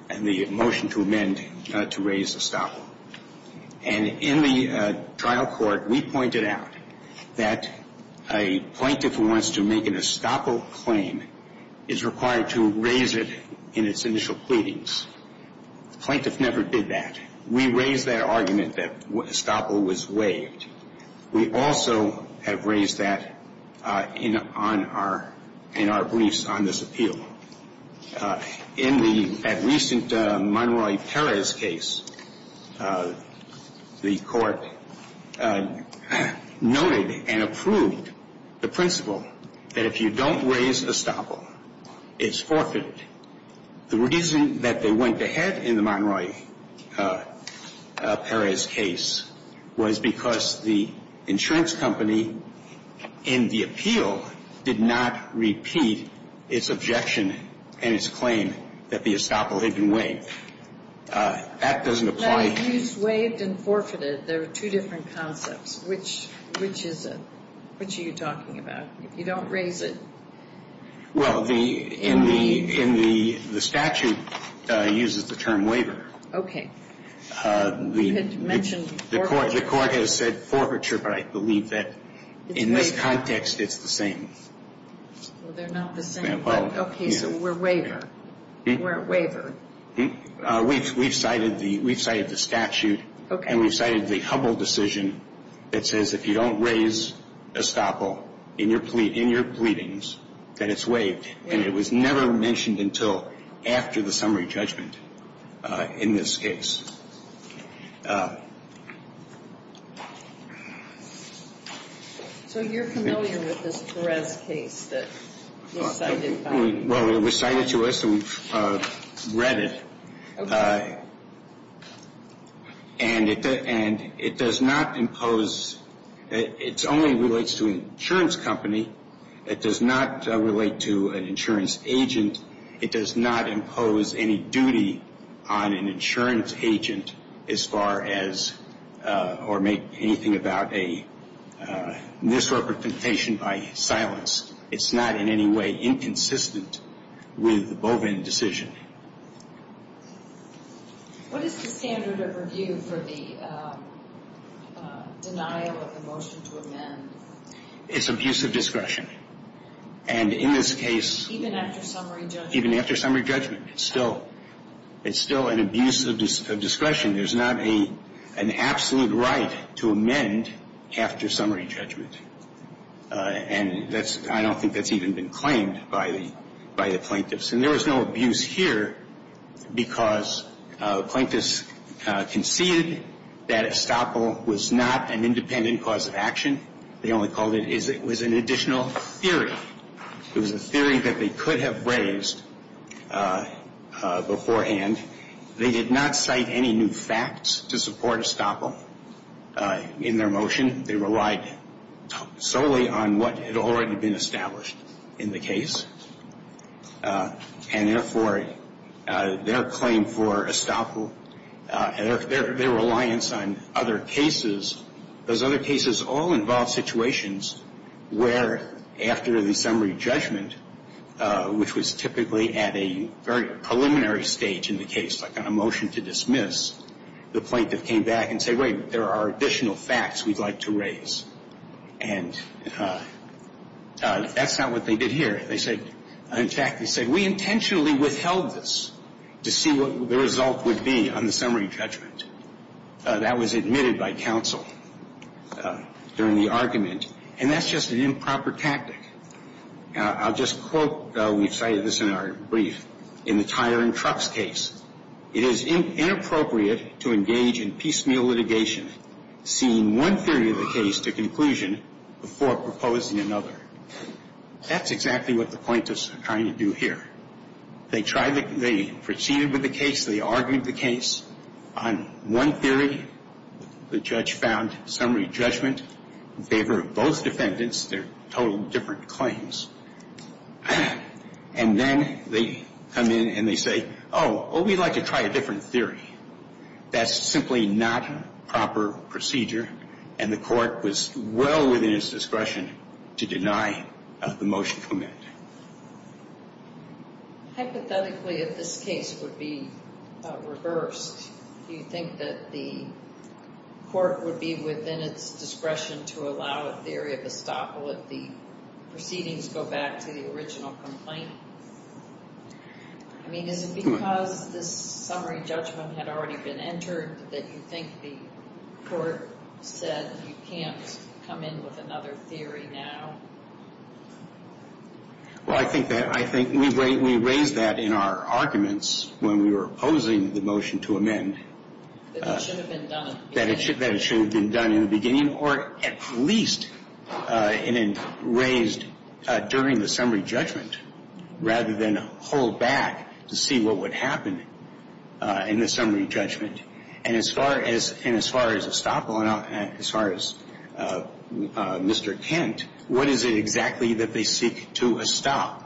and the motion to amend to raise estoppel. And in the trial court, we pointed out that a plaintiff who wants to make an estoppel claim is required to raise it in its initial pleadings. The plaintiff never did that. We raised that argument that estoppel was waived. We also have raised that in our briefs on this appeal. In the recent Monroy-Perez case, the court noted and approved the principle that if you don't raise estoppel, it's forfeited. The reason that they went ahead in the Monroy-Perez case was because the insurance company in the appeal did not repeat its objection and its claim that the estoppel had been waived. That doesn't apply here. But it used waived and forfeited. They're two different concepts. Which is it? Which are you talking about? If you don't raise it, you're waived. Well, the statute uses the term waiver. Okay. You had mentioned forfeiture. The court has said forfeiture, but I believe that in this context it's the same. Well, they're not the same. Okay, so we're waivered. We're waivered. We've cited the statute and we've cited the Humboldt decision that says if you don't raise estoppel in your pleadings, that it's waived. And it was never mentioned until after the summary judgment in this case. So you're familiar with this Perez case that was cited by you? Well, it was cited to us and we've read it. Okay. And it does not impose ‑‑ it only relates to an insurance company. It does not relate to an insurance agent. It does not impose any duty on an insurance agent. As far as ‑‑ or make anything about a misrepresentation by silence. It's not in any way inconsistent with the Bovin decision. What is the standard of review for the denial of the motion to amend? It's abuse of discretion. And in this case ‑‑ Even after summary judgment. Even after summary judgment. It's still an abuse of discretion. There's not an absolute right to amend after summary judgment. And that's ‑‑ I don't think that's even been claimed by the plaintiffs. And there was no abuse here because plaintiffs conceded that estoppel was not an independent cause of action. They only called it ‑‑ it was an additional theory. It was a theory that they could have raised beforehand. They did not cite any new facts to support estoppel in their motion. They relied solely on what had already been established in the case. And therefore, their claim for estoppel, their reliance on other cases, those other cases all involve situations where after the summary judgment, which was typically at a very preliminary stage in the case, like on a motion to dismiss, the plaintiff came back and said, wait, there are additional facts we'd like to raise. And that's not what they did here. They said ‑‑ in fact, they said, we intentionally withheld this to see what the result would be on the summary judgment. That was admitted by counsel during the argument. And that's just an improper tactic. I'll just quote, we've cited this in our brief, in the tire and trucks case. It is inappropriate to engage in piecemeal litigation, seeing one theory of the case to conclusion before proposing another. That's exactly what the plaintiffs are trying to do here. They proceeded with the case. They argued the case on one theory. The judge found summary judgment in favor of both defendants. They're totally different claims. And then they come in and they say, oh, we'd like to try a different theory. That's simply not proper procedure. And the court was well within its discretion to deny the motion from it. Hypothetically, if this case would be reversed, do you think that the court would be within its discretion to allow a theory of estoppel if the proceedings go back to the original complaint? I mean, is it because this summary judgment had already been entered that you think the court said you can't come in with another theory now? Well, I think we raised that in our arguments when we were opposing the motion to amend. That it should have been done. That it should have been done in the beginning, or at least raised during the summary judgment, rather than hold back to see what would happen in the summary judgment. And as far as estoppel and as far as Mr. Kent, what is it exactly that they seek to estoppel?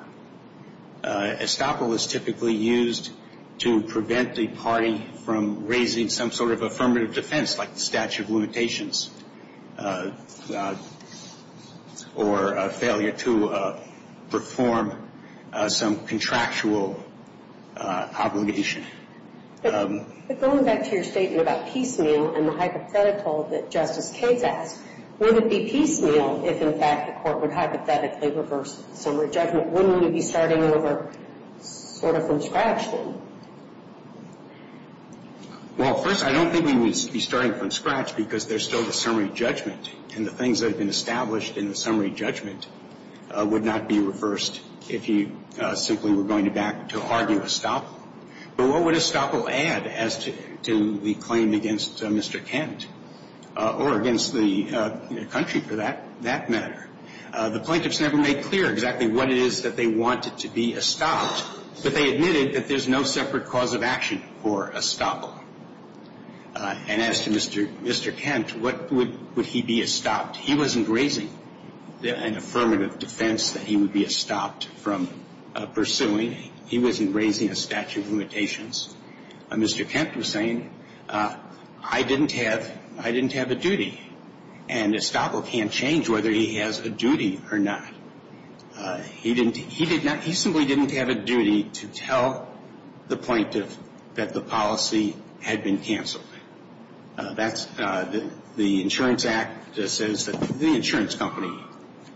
Estoppel is typically used to prevent the party from raising some sort of affirmative defense, like the statute of limitations, or a failure to perform some contractual obligation. But going back to your statement about piecemeal and the hypothetical that Justice Cades asked, would it be piecemeal if, in fact, the court would hypothetically reverse the summary judgment? Wouldn't it be starting over sort of from scratch then? Well, first, I don't think we would be starting from scratch because there's still the summary judgment, and the things that have been established in the summary judgment would not be reversed if you simply were going to back to argue estoppel. But what would estoppel add as to the claim against Mr. Kent or against the country, for that matter? The plaintiffs never made clear exactly what it is that they wanted to be estopped, but they admitted that there's no separate cause of action for estoppel. And as to Mr. Kent, what would he be estopped? He wasn't raising an affirmative defense that he would be estopped from pursuing. He wasn't raising a statute of limitations. Mr. Kent was saying, I didn't have a duty, and estoppel can't change whether he has a duty or not. He simply didn't have a duty to tell the plaintiff that the policy had been canceled. The Insurance Act says that the insurance company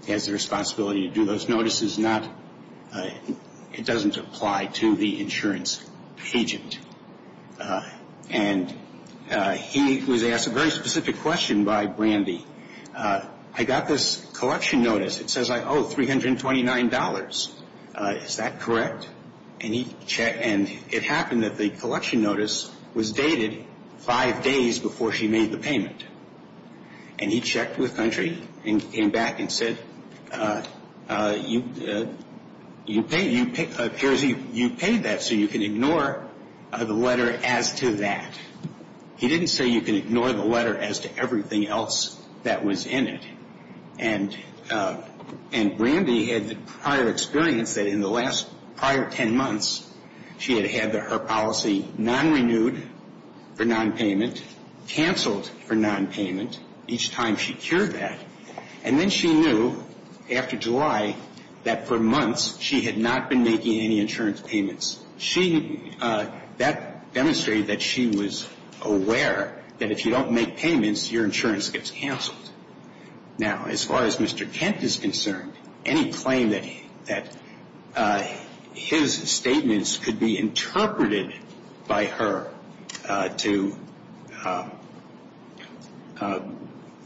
has the responsibility to do those notices. It doesn't apply to the insurance agent. And he was asked a very specific question by Brandy. I got this collection notice. It says I owe $329. Is that correct? And it happened that the collection notice was dated five days before she made the payment. And he checked with country and came back and said, you paid that, so you can ignore the letter as to that. He didn't say you can ignore the letter as to everything else that was in it. And Brandy had the prior experience that in the last prior 10 months, she had had her policy non-renewed for non-payment, canceled for non-payment each time she cured that. And then she knew after July that for months she had not been making any insurance payments. That demonstrated that she was aware that if you don't make payments, your insurance gets canceled. Now, as far as Mr. Kent is concerned, any claim that his statements could be interpreted by her to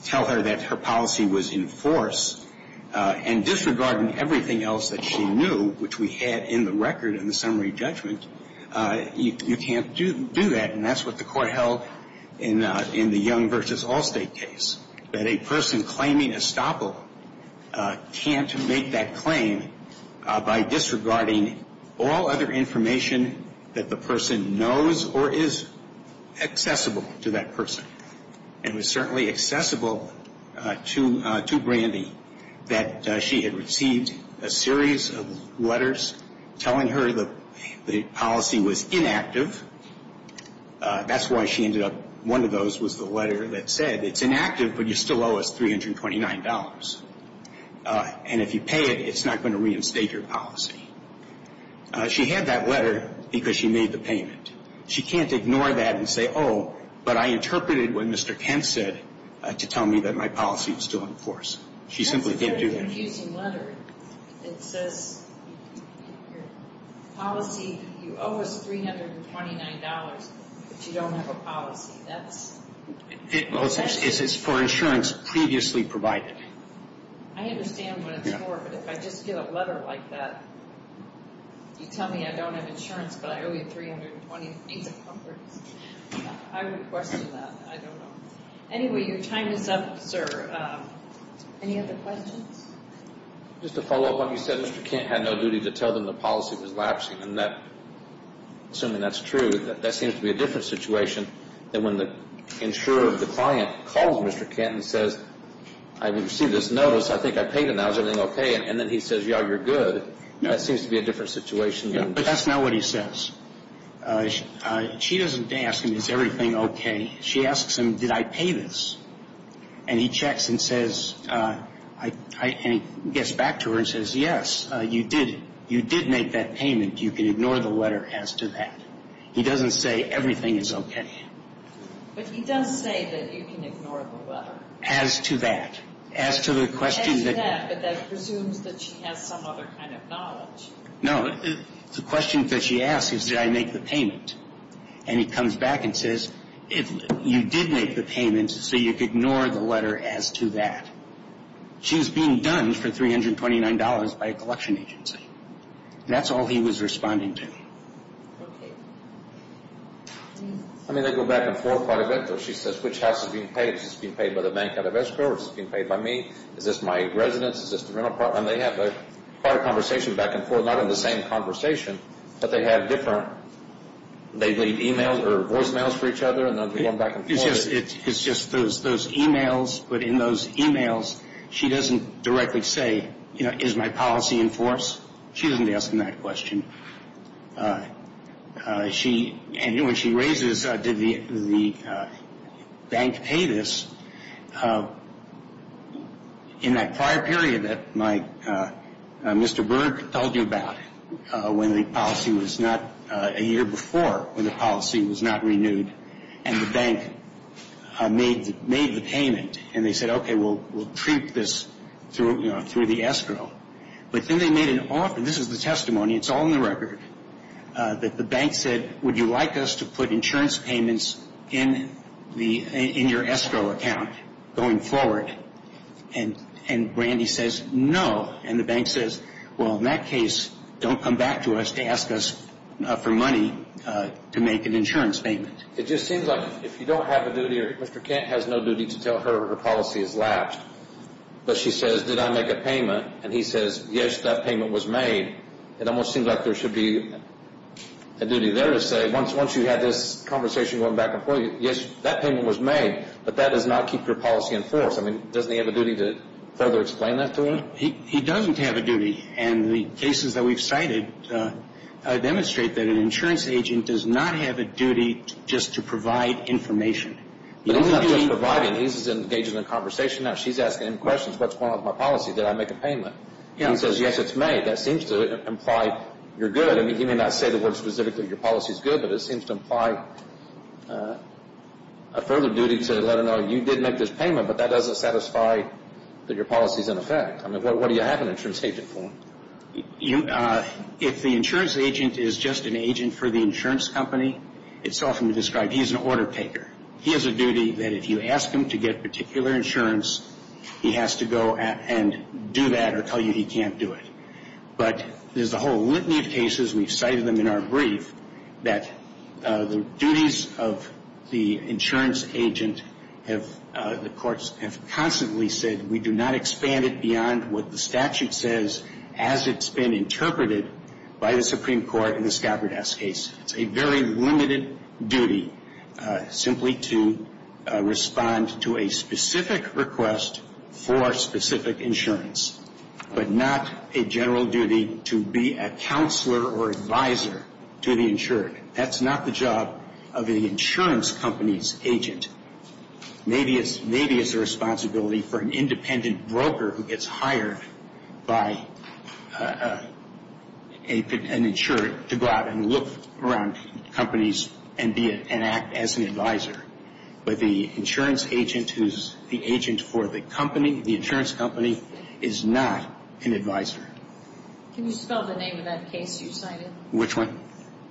tell her that her policy was in force and disregarding everything else that she knew, which we had in the record in the summary judgment, you can't do that. And that's what the court held in the Young v. Allstate case, that a person claiming estoppel can't make that claim by disregarding all other information that the person knows or is accessible to that person. It was certainly accessible to Brandy that she had received a series of letters telling her the policy was inactive. That's why she ended up, one of those was the letter that said it's inactive, but you still owe us $329. And if you pay it, it's not going to reinstate your policy. She had that letter because she made the payment. She can't ignore that and say, oh, but I interpreted what Mr. Kent said to tell me that my policy was still in force. She simply can't do that. That's a very confusing letter. It says your policy, you owe us $329, but you don't have a policy. That's… It's for insurance previously provided. I understand what it's for, but if I just get a letter like that, you tell me I don't have insurance, but I owe you $329. I would question that. I don't know. Anyway, your time is up, sir. Any other questions? Just to follow up on what you said, Mr. Kent had no duty to tell them the policy was lapsing. Assuming that's true, that seems to be a different situation than when the insurer of the client calls Mr. Kent and says, I received this notice. I think I paid it now. Is everything okay? And then he says, yeah, you're good. That seems to be a different situation. But that's not what he says. She doesn't ask him, is everything okay? She asks him, did I pay this? And he checks and says, and he gets back to her and says, yes, you did make that payment. You can ignore the letter as to that. He doesn't say everything is okay. But he does say that you can ignore the letter. As to that. As to the question. As to that. But that presumes that she has some other kind of knowledge. No. The question that she asks is, did I make the payment? And he comes back and says, you did make the payment, so you could ignore the letter as to that. She was being done for $329 by a collection agency. That's all he was responding to. Okay. I'm going to go back and forth quite a bit. She says, which house is being paid? Is this being paid by the bank out of Escrow? Is this being paid by me? Is this my residence? Is this the rental apartment? They have quite a conversation back and forth. Not in the same conversation, but they have different. They leave emails or voicemails for each other. It's just those emails. But in those emails, she doesn't directly say, you know, is my policy in force? She doesn't ask him that question. And when she raises, did the bank pay this? In that prior period that Mr. Berg told you about, when the policy was not a year before, when the policy was not renewed, and the bank made the payment, and they said, okay, we'll treat this through the Escrow. But then they made an offer. This is the testimony. It's all in the record. The bank said, would you like us to put insurance payments in your Escrow account going forward? And Randy says, no. And the bank says, well, in that case, don't come back to us to ask us for money to make an insurance payment. It just seems like if you don't have a duty, or Mr. Kent has no duty to tell her her policy is latched. But she says, did I make a payment? And he says, yes, that payment was made. It almost seems like there should be a duty there to say, once you had this conversation going back and forth, yes, that payment was made, but that does not keep your policy in force. I mean, doesn't he have a duty to further explain that to her? He doesn't have a duty. And the cases that we've cited demonstrate that an insurance agent does not have a duty just to provide information. But he's not just providing. He's engaging in a conversation now. She's asking him questions. What's going on with my policy? Did I make a payment? He says, yes, it's made. That seems to imply you're good. I mean, he may not say the word specifically your policy is good, but it seems to imply a further duty to let her know you did make this payment, but that doesn't satisfy that your policy is in effect. I mean, what do you have an insurance agent for? If the insurance agent is just an agent for the insurance company, it's often described, he's an order taker. He has a duty that if you ask him to get particular insurance, he has to go and do that or tell you he can't do it. But there's a whole litany of cases, we've cited them in our brief, that the duties of the insurance agent have, the courts have constantly said, we do not expand it beyond what the statute says as it's been interpreted by the Supreme Court in the Skaberdash case. It's a very limited duty simply to respond to a specific request for specific insurance, but not a general duty to be a counselor or advisor to the insured. That's not the job of the insurance company's agent. Maybe it's the responsibility for an independent broker who gets hired by an insurer to go out and look around companies and act as an advisor. But the insurance agent who's the agent for the company, the insurance company, is not an advisor. Can you spell the name of that case you cited? Which one?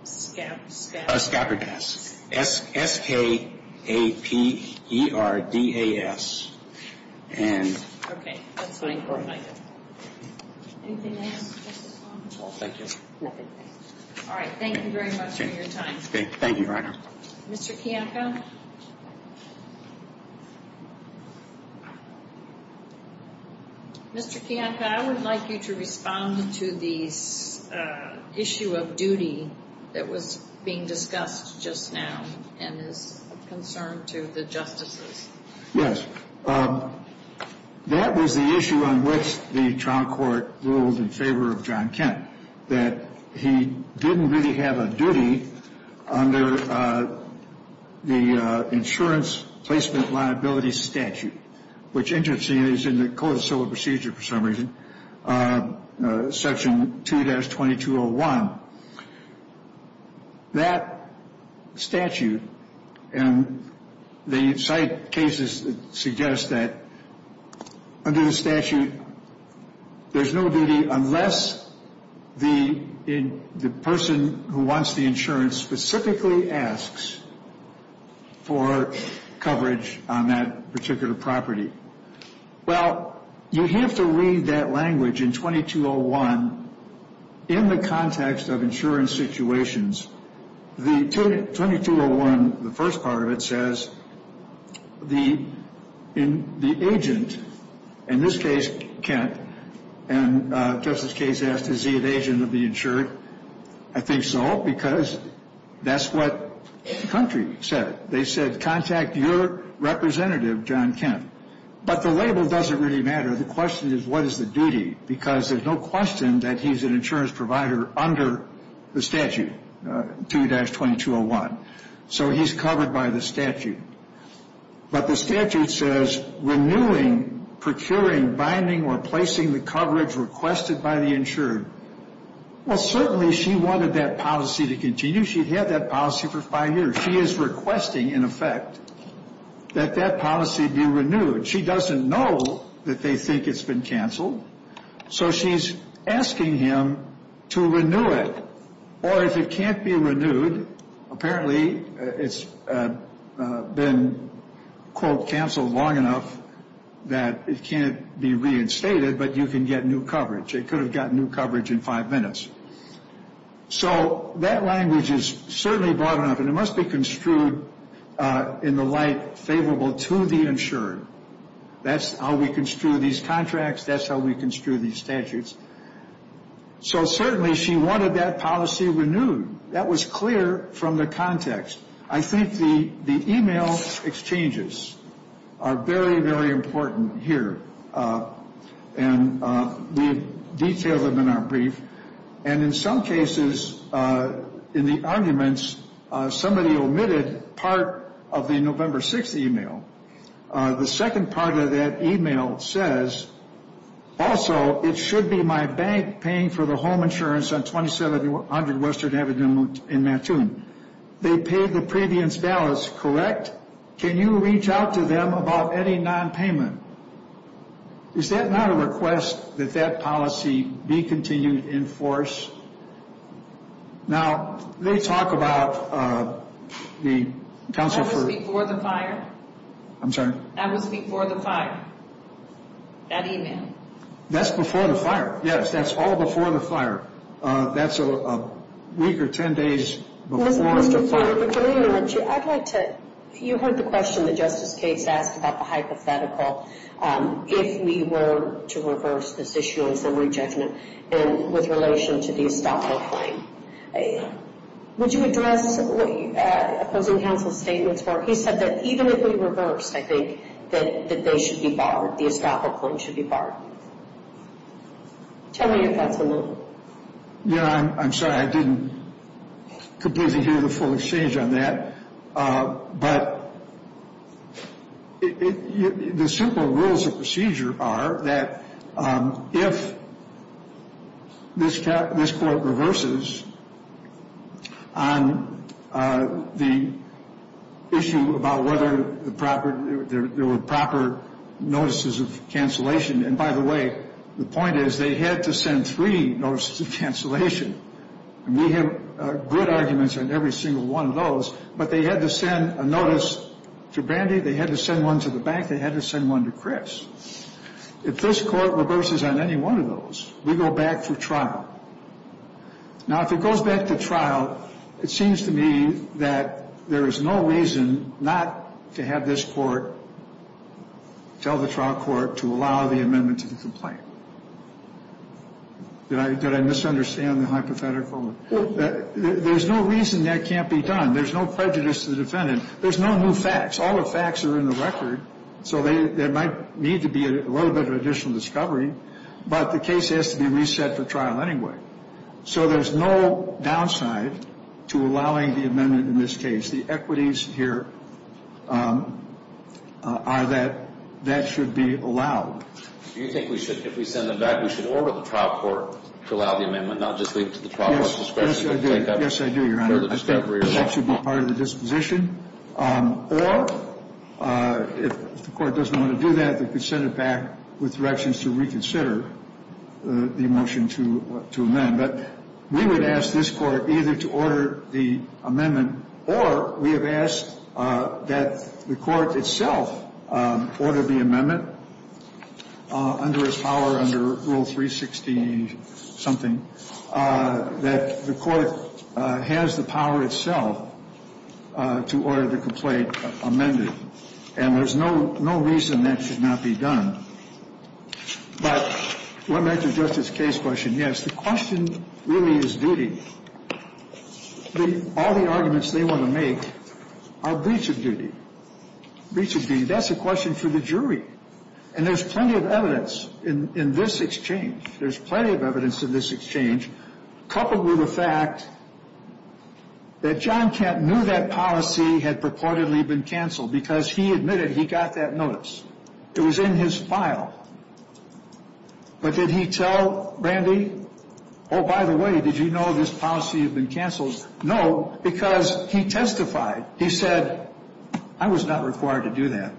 Skaberdash. S-K-A-P-E-R-D-A-S. Okay. That's fine. Anything else, Justice Long? No, thank you. All right. Thank you very much for your time. Thank you, Your Honor. Mr. Kiyanka? Mr. Kiyanka, I would like you to respond to the issue of duty that was being discussed just now and is a concern to the justices. Yes. That was the issue on which the trial court ruled in favor of John Kent, that he didn't really have a duty under the insurance placement liability statute, which interestingly is in the Code of Civil Procedure for some reason, Section 2-2201. That statute and the site cases suggest that under the statute, there's no duty unless the person who wants the insurance specifically asks for coverage on that particular property. Well, you have to read that language in 2201 in the context of insurance situations. The 2201, the first part of it says, the agent, in this case, Kent, and Justice Case asked, is he an agent of the insured? I think so because that's what the country said. They said, contact your representative, John Kent. But the label doesn't really matter. The question is, what is the duty? Because there's no question that he's an insurance provider under the statute, 2-2201. So he's covered by the statute. But the statute says, renewing, procuring, binding, or placing the coverage requested by the insured. Well, certainly she wanted that policy to continue. She had that policy for five years. She is requesting, in effect, that that policy be renewed. She doesn't know that they think it's been canceled, so she's asking him to renew it. Or if it can't be renewed, apparently it's been, quote, canceled long enough that it can't be reinstated, but you can get new coverage. It could have gotten new coverage in five minutes. So that language is certainly broad enough, and it must be construed in the light favorable to the insured. That's how we construe these contracts. That's how we construe these statutes. So certainly she wanted that policy renewed. That was clear from the context. I think the e-mail exchanges are very, very important here, and we've detailed them in our brief. And in some cases, in the arguments, somebody omitted part of the November 6th e-mail. The second part of that e-mail says, also, it should be my bank paying for the home insurance on 2700 Western Avenue in Mattoon. They paid the previous balance, correct? Can you reach out to them about any nonpayment? Is that not a request that that policy be continued in force? Now, they talk about the council for- I'm sorry? That was before the fire, that e-mail? That's before the fire, yes. That's all before the fire. That's a week or ten days before the fire. I'd like to, you heard the question that Justice Cates asked about the hypothetical, if we were to reverse this issue in summary judgment with relation to the estoppel claim. Would you address opposing counsel's statements where he said that even if we reversed, I think, that they should be barred, the estoppel claim should be barred? Tell me your thoughts a little. Yeah, I'm sorry. I didn't completely hear the full exchange on that. But the simple rules of procedure are that if this court reverses on the issue about whether there were proper notices of cancellation and, by the way, the point is they had to send three notices of cancellation, and we have good arguments on every single one of those, but they had to send a notice to Brandy, they had to send one to the bank, they had to send one to Chris. If this court reverses on any one of those, we go back to trial. Now, if it goes back to trial, it seems to me that there is no reason not to have this court tell the trial court to allow the amendment to the complaint. Did I misunderstand the hypothetical? There's no reason that can't be done. There's no prejudice to the defendant. There's no new facts. All the facts are in the record, so there might need to be a little bit of additional discovery, but the case has to be reset for trial anyway. So there's no downside to allowing the amendment in this case. The equities here are that that should be allowed. Do you think we should, if we send it back, we should order the trial court to allow the amendment, not just leave it to the trial court's discretion? Yes, I do. Yes, I do, Your Honor. I think that should be part of the disposition. Or if the court doesn't want to do that, they could send it back with directions to reconsider the motion to amend. But we would ask this court either to order the amendment, or we have asked that the court itself order the amendment under its power under Rule 360-something, that the court has the power itself to order the complaint amended. And there's no reason that should not be done. But let me answer Justice Kaye's question. Yes, the question really is duty. All the arguments they want to make are breach of duty, breach of duty. That's a question for the jury. And there's plenty of evidence in this exchange, there's plenty of evidence in this exchange, coupled with the fact that John Kent knew that policy had purportedly been canceled because he admitted he got that notice. It was in his file. But did he tell Brandy, oh, by the way, did you know this policy had been canceled? No, because he testified. He said, I was not required to do that.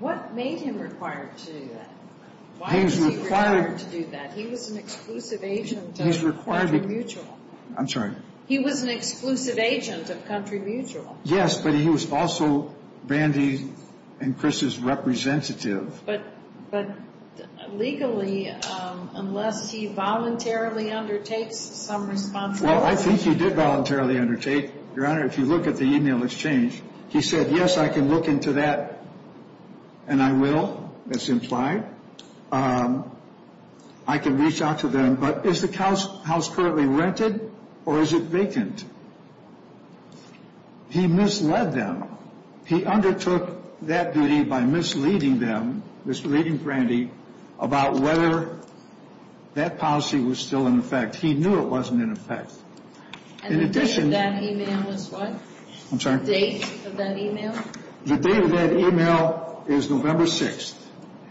What made him required to do that? Why was he required to do that? He was an exclusive agent of Country Mutual. I'm sorry? He was an exclusive agent of Country Mutual. Yes, but he was also Brandy and Chris's representative. But legally, unless he voluntarily undertakes some responsibility. Well, I think he did voluntarily undertake. Your Honor, if you look at the email exchange, he said, yes, I can look into that, and I will. That's implied. I can reach out to them. But is the house currently rented or is it vacant? He misled them. He undertook that duty by misleading them, misleading Brandy, about whether that policy was still in effect. He knew it wasn't in effect. And the date of that email was what? I'm sorry? The date of that email? The date of that email is November 6th.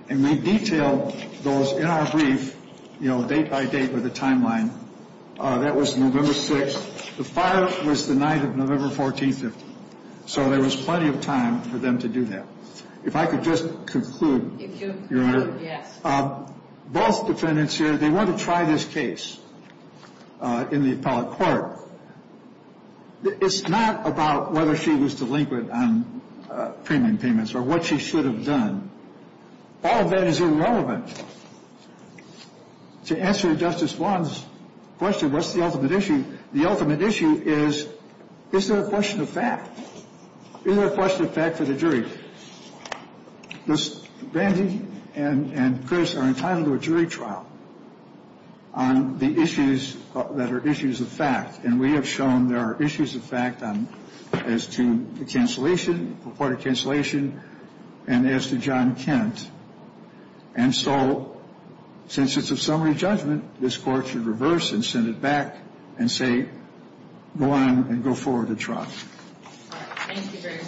And we detailed those in our brief, you know, date by date with a timeline. That was November 6th. The fire was the night of November 14th. So there was plenty of time for them to do that. If I could just conclude, Your Honor. Yes. Both defendants here, they want to try this case in the appellate court. It's not about whether she was delinquent on payment payments or what she should have done. All of that is irrelevant. To answer Justice Wong's question, what's the ultimate issue? The ultimate issue is, is there a question of fact? Is there a question of fact for the jury? Brandy and Chris are entitled to a jury trial on the issues that are issues of fact. And we have shown there are issues of fact as to the cancellation, reported cancellation, and as to John Kent. And so since it's a summary judgment, this Court should reverse and send it back and say, go on and go forward with the trial. Thank you very much.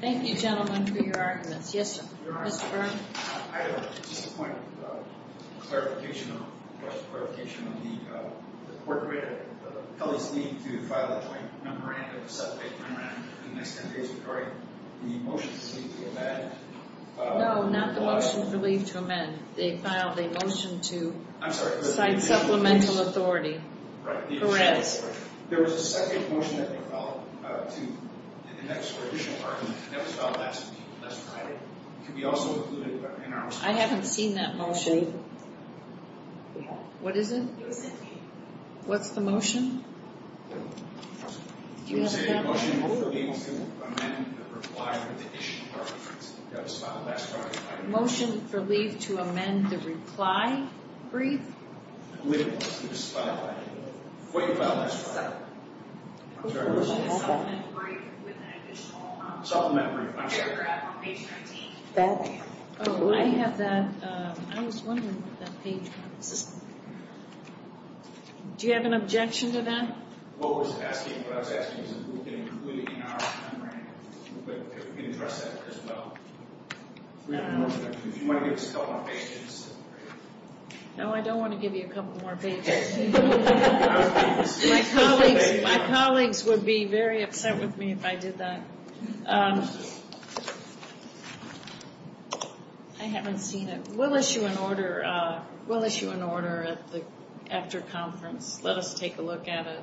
Thank you, gentlemen, for your arguments. Yes, Mr. Burns. I have just a point of clarification of the court rate. The police need to file a joint memorandum, a separate memorandum, in the next 10 days before the motion to leave to amend. No, not the motion to leave to amend. They filed a motion to cite supplemental authority. Correct. There was a second motion that they filed in the next or additional argument that was filed last Friday. It could be also included in our motion. I haven't seen that motion. What is it? What's the motion? Do we have a motion? Motion for leave to amend the reply brief. Motion for leave to amend the reply brief. What did you file last Friday? Supplementary brief with an additional paragraph on page 13. Oh, I have that. I was wondering what that page was. Do you have an objection to that? What I was asking is if we can include it in our memorandum, if we can address that as well. Do you want to give us a couple of pages? No, I don't want to give you a couple more pages. My colleagues would be very upset with me if I did that. I haven't seen it. We'll issue an order at the after conference. Let us take a look at it.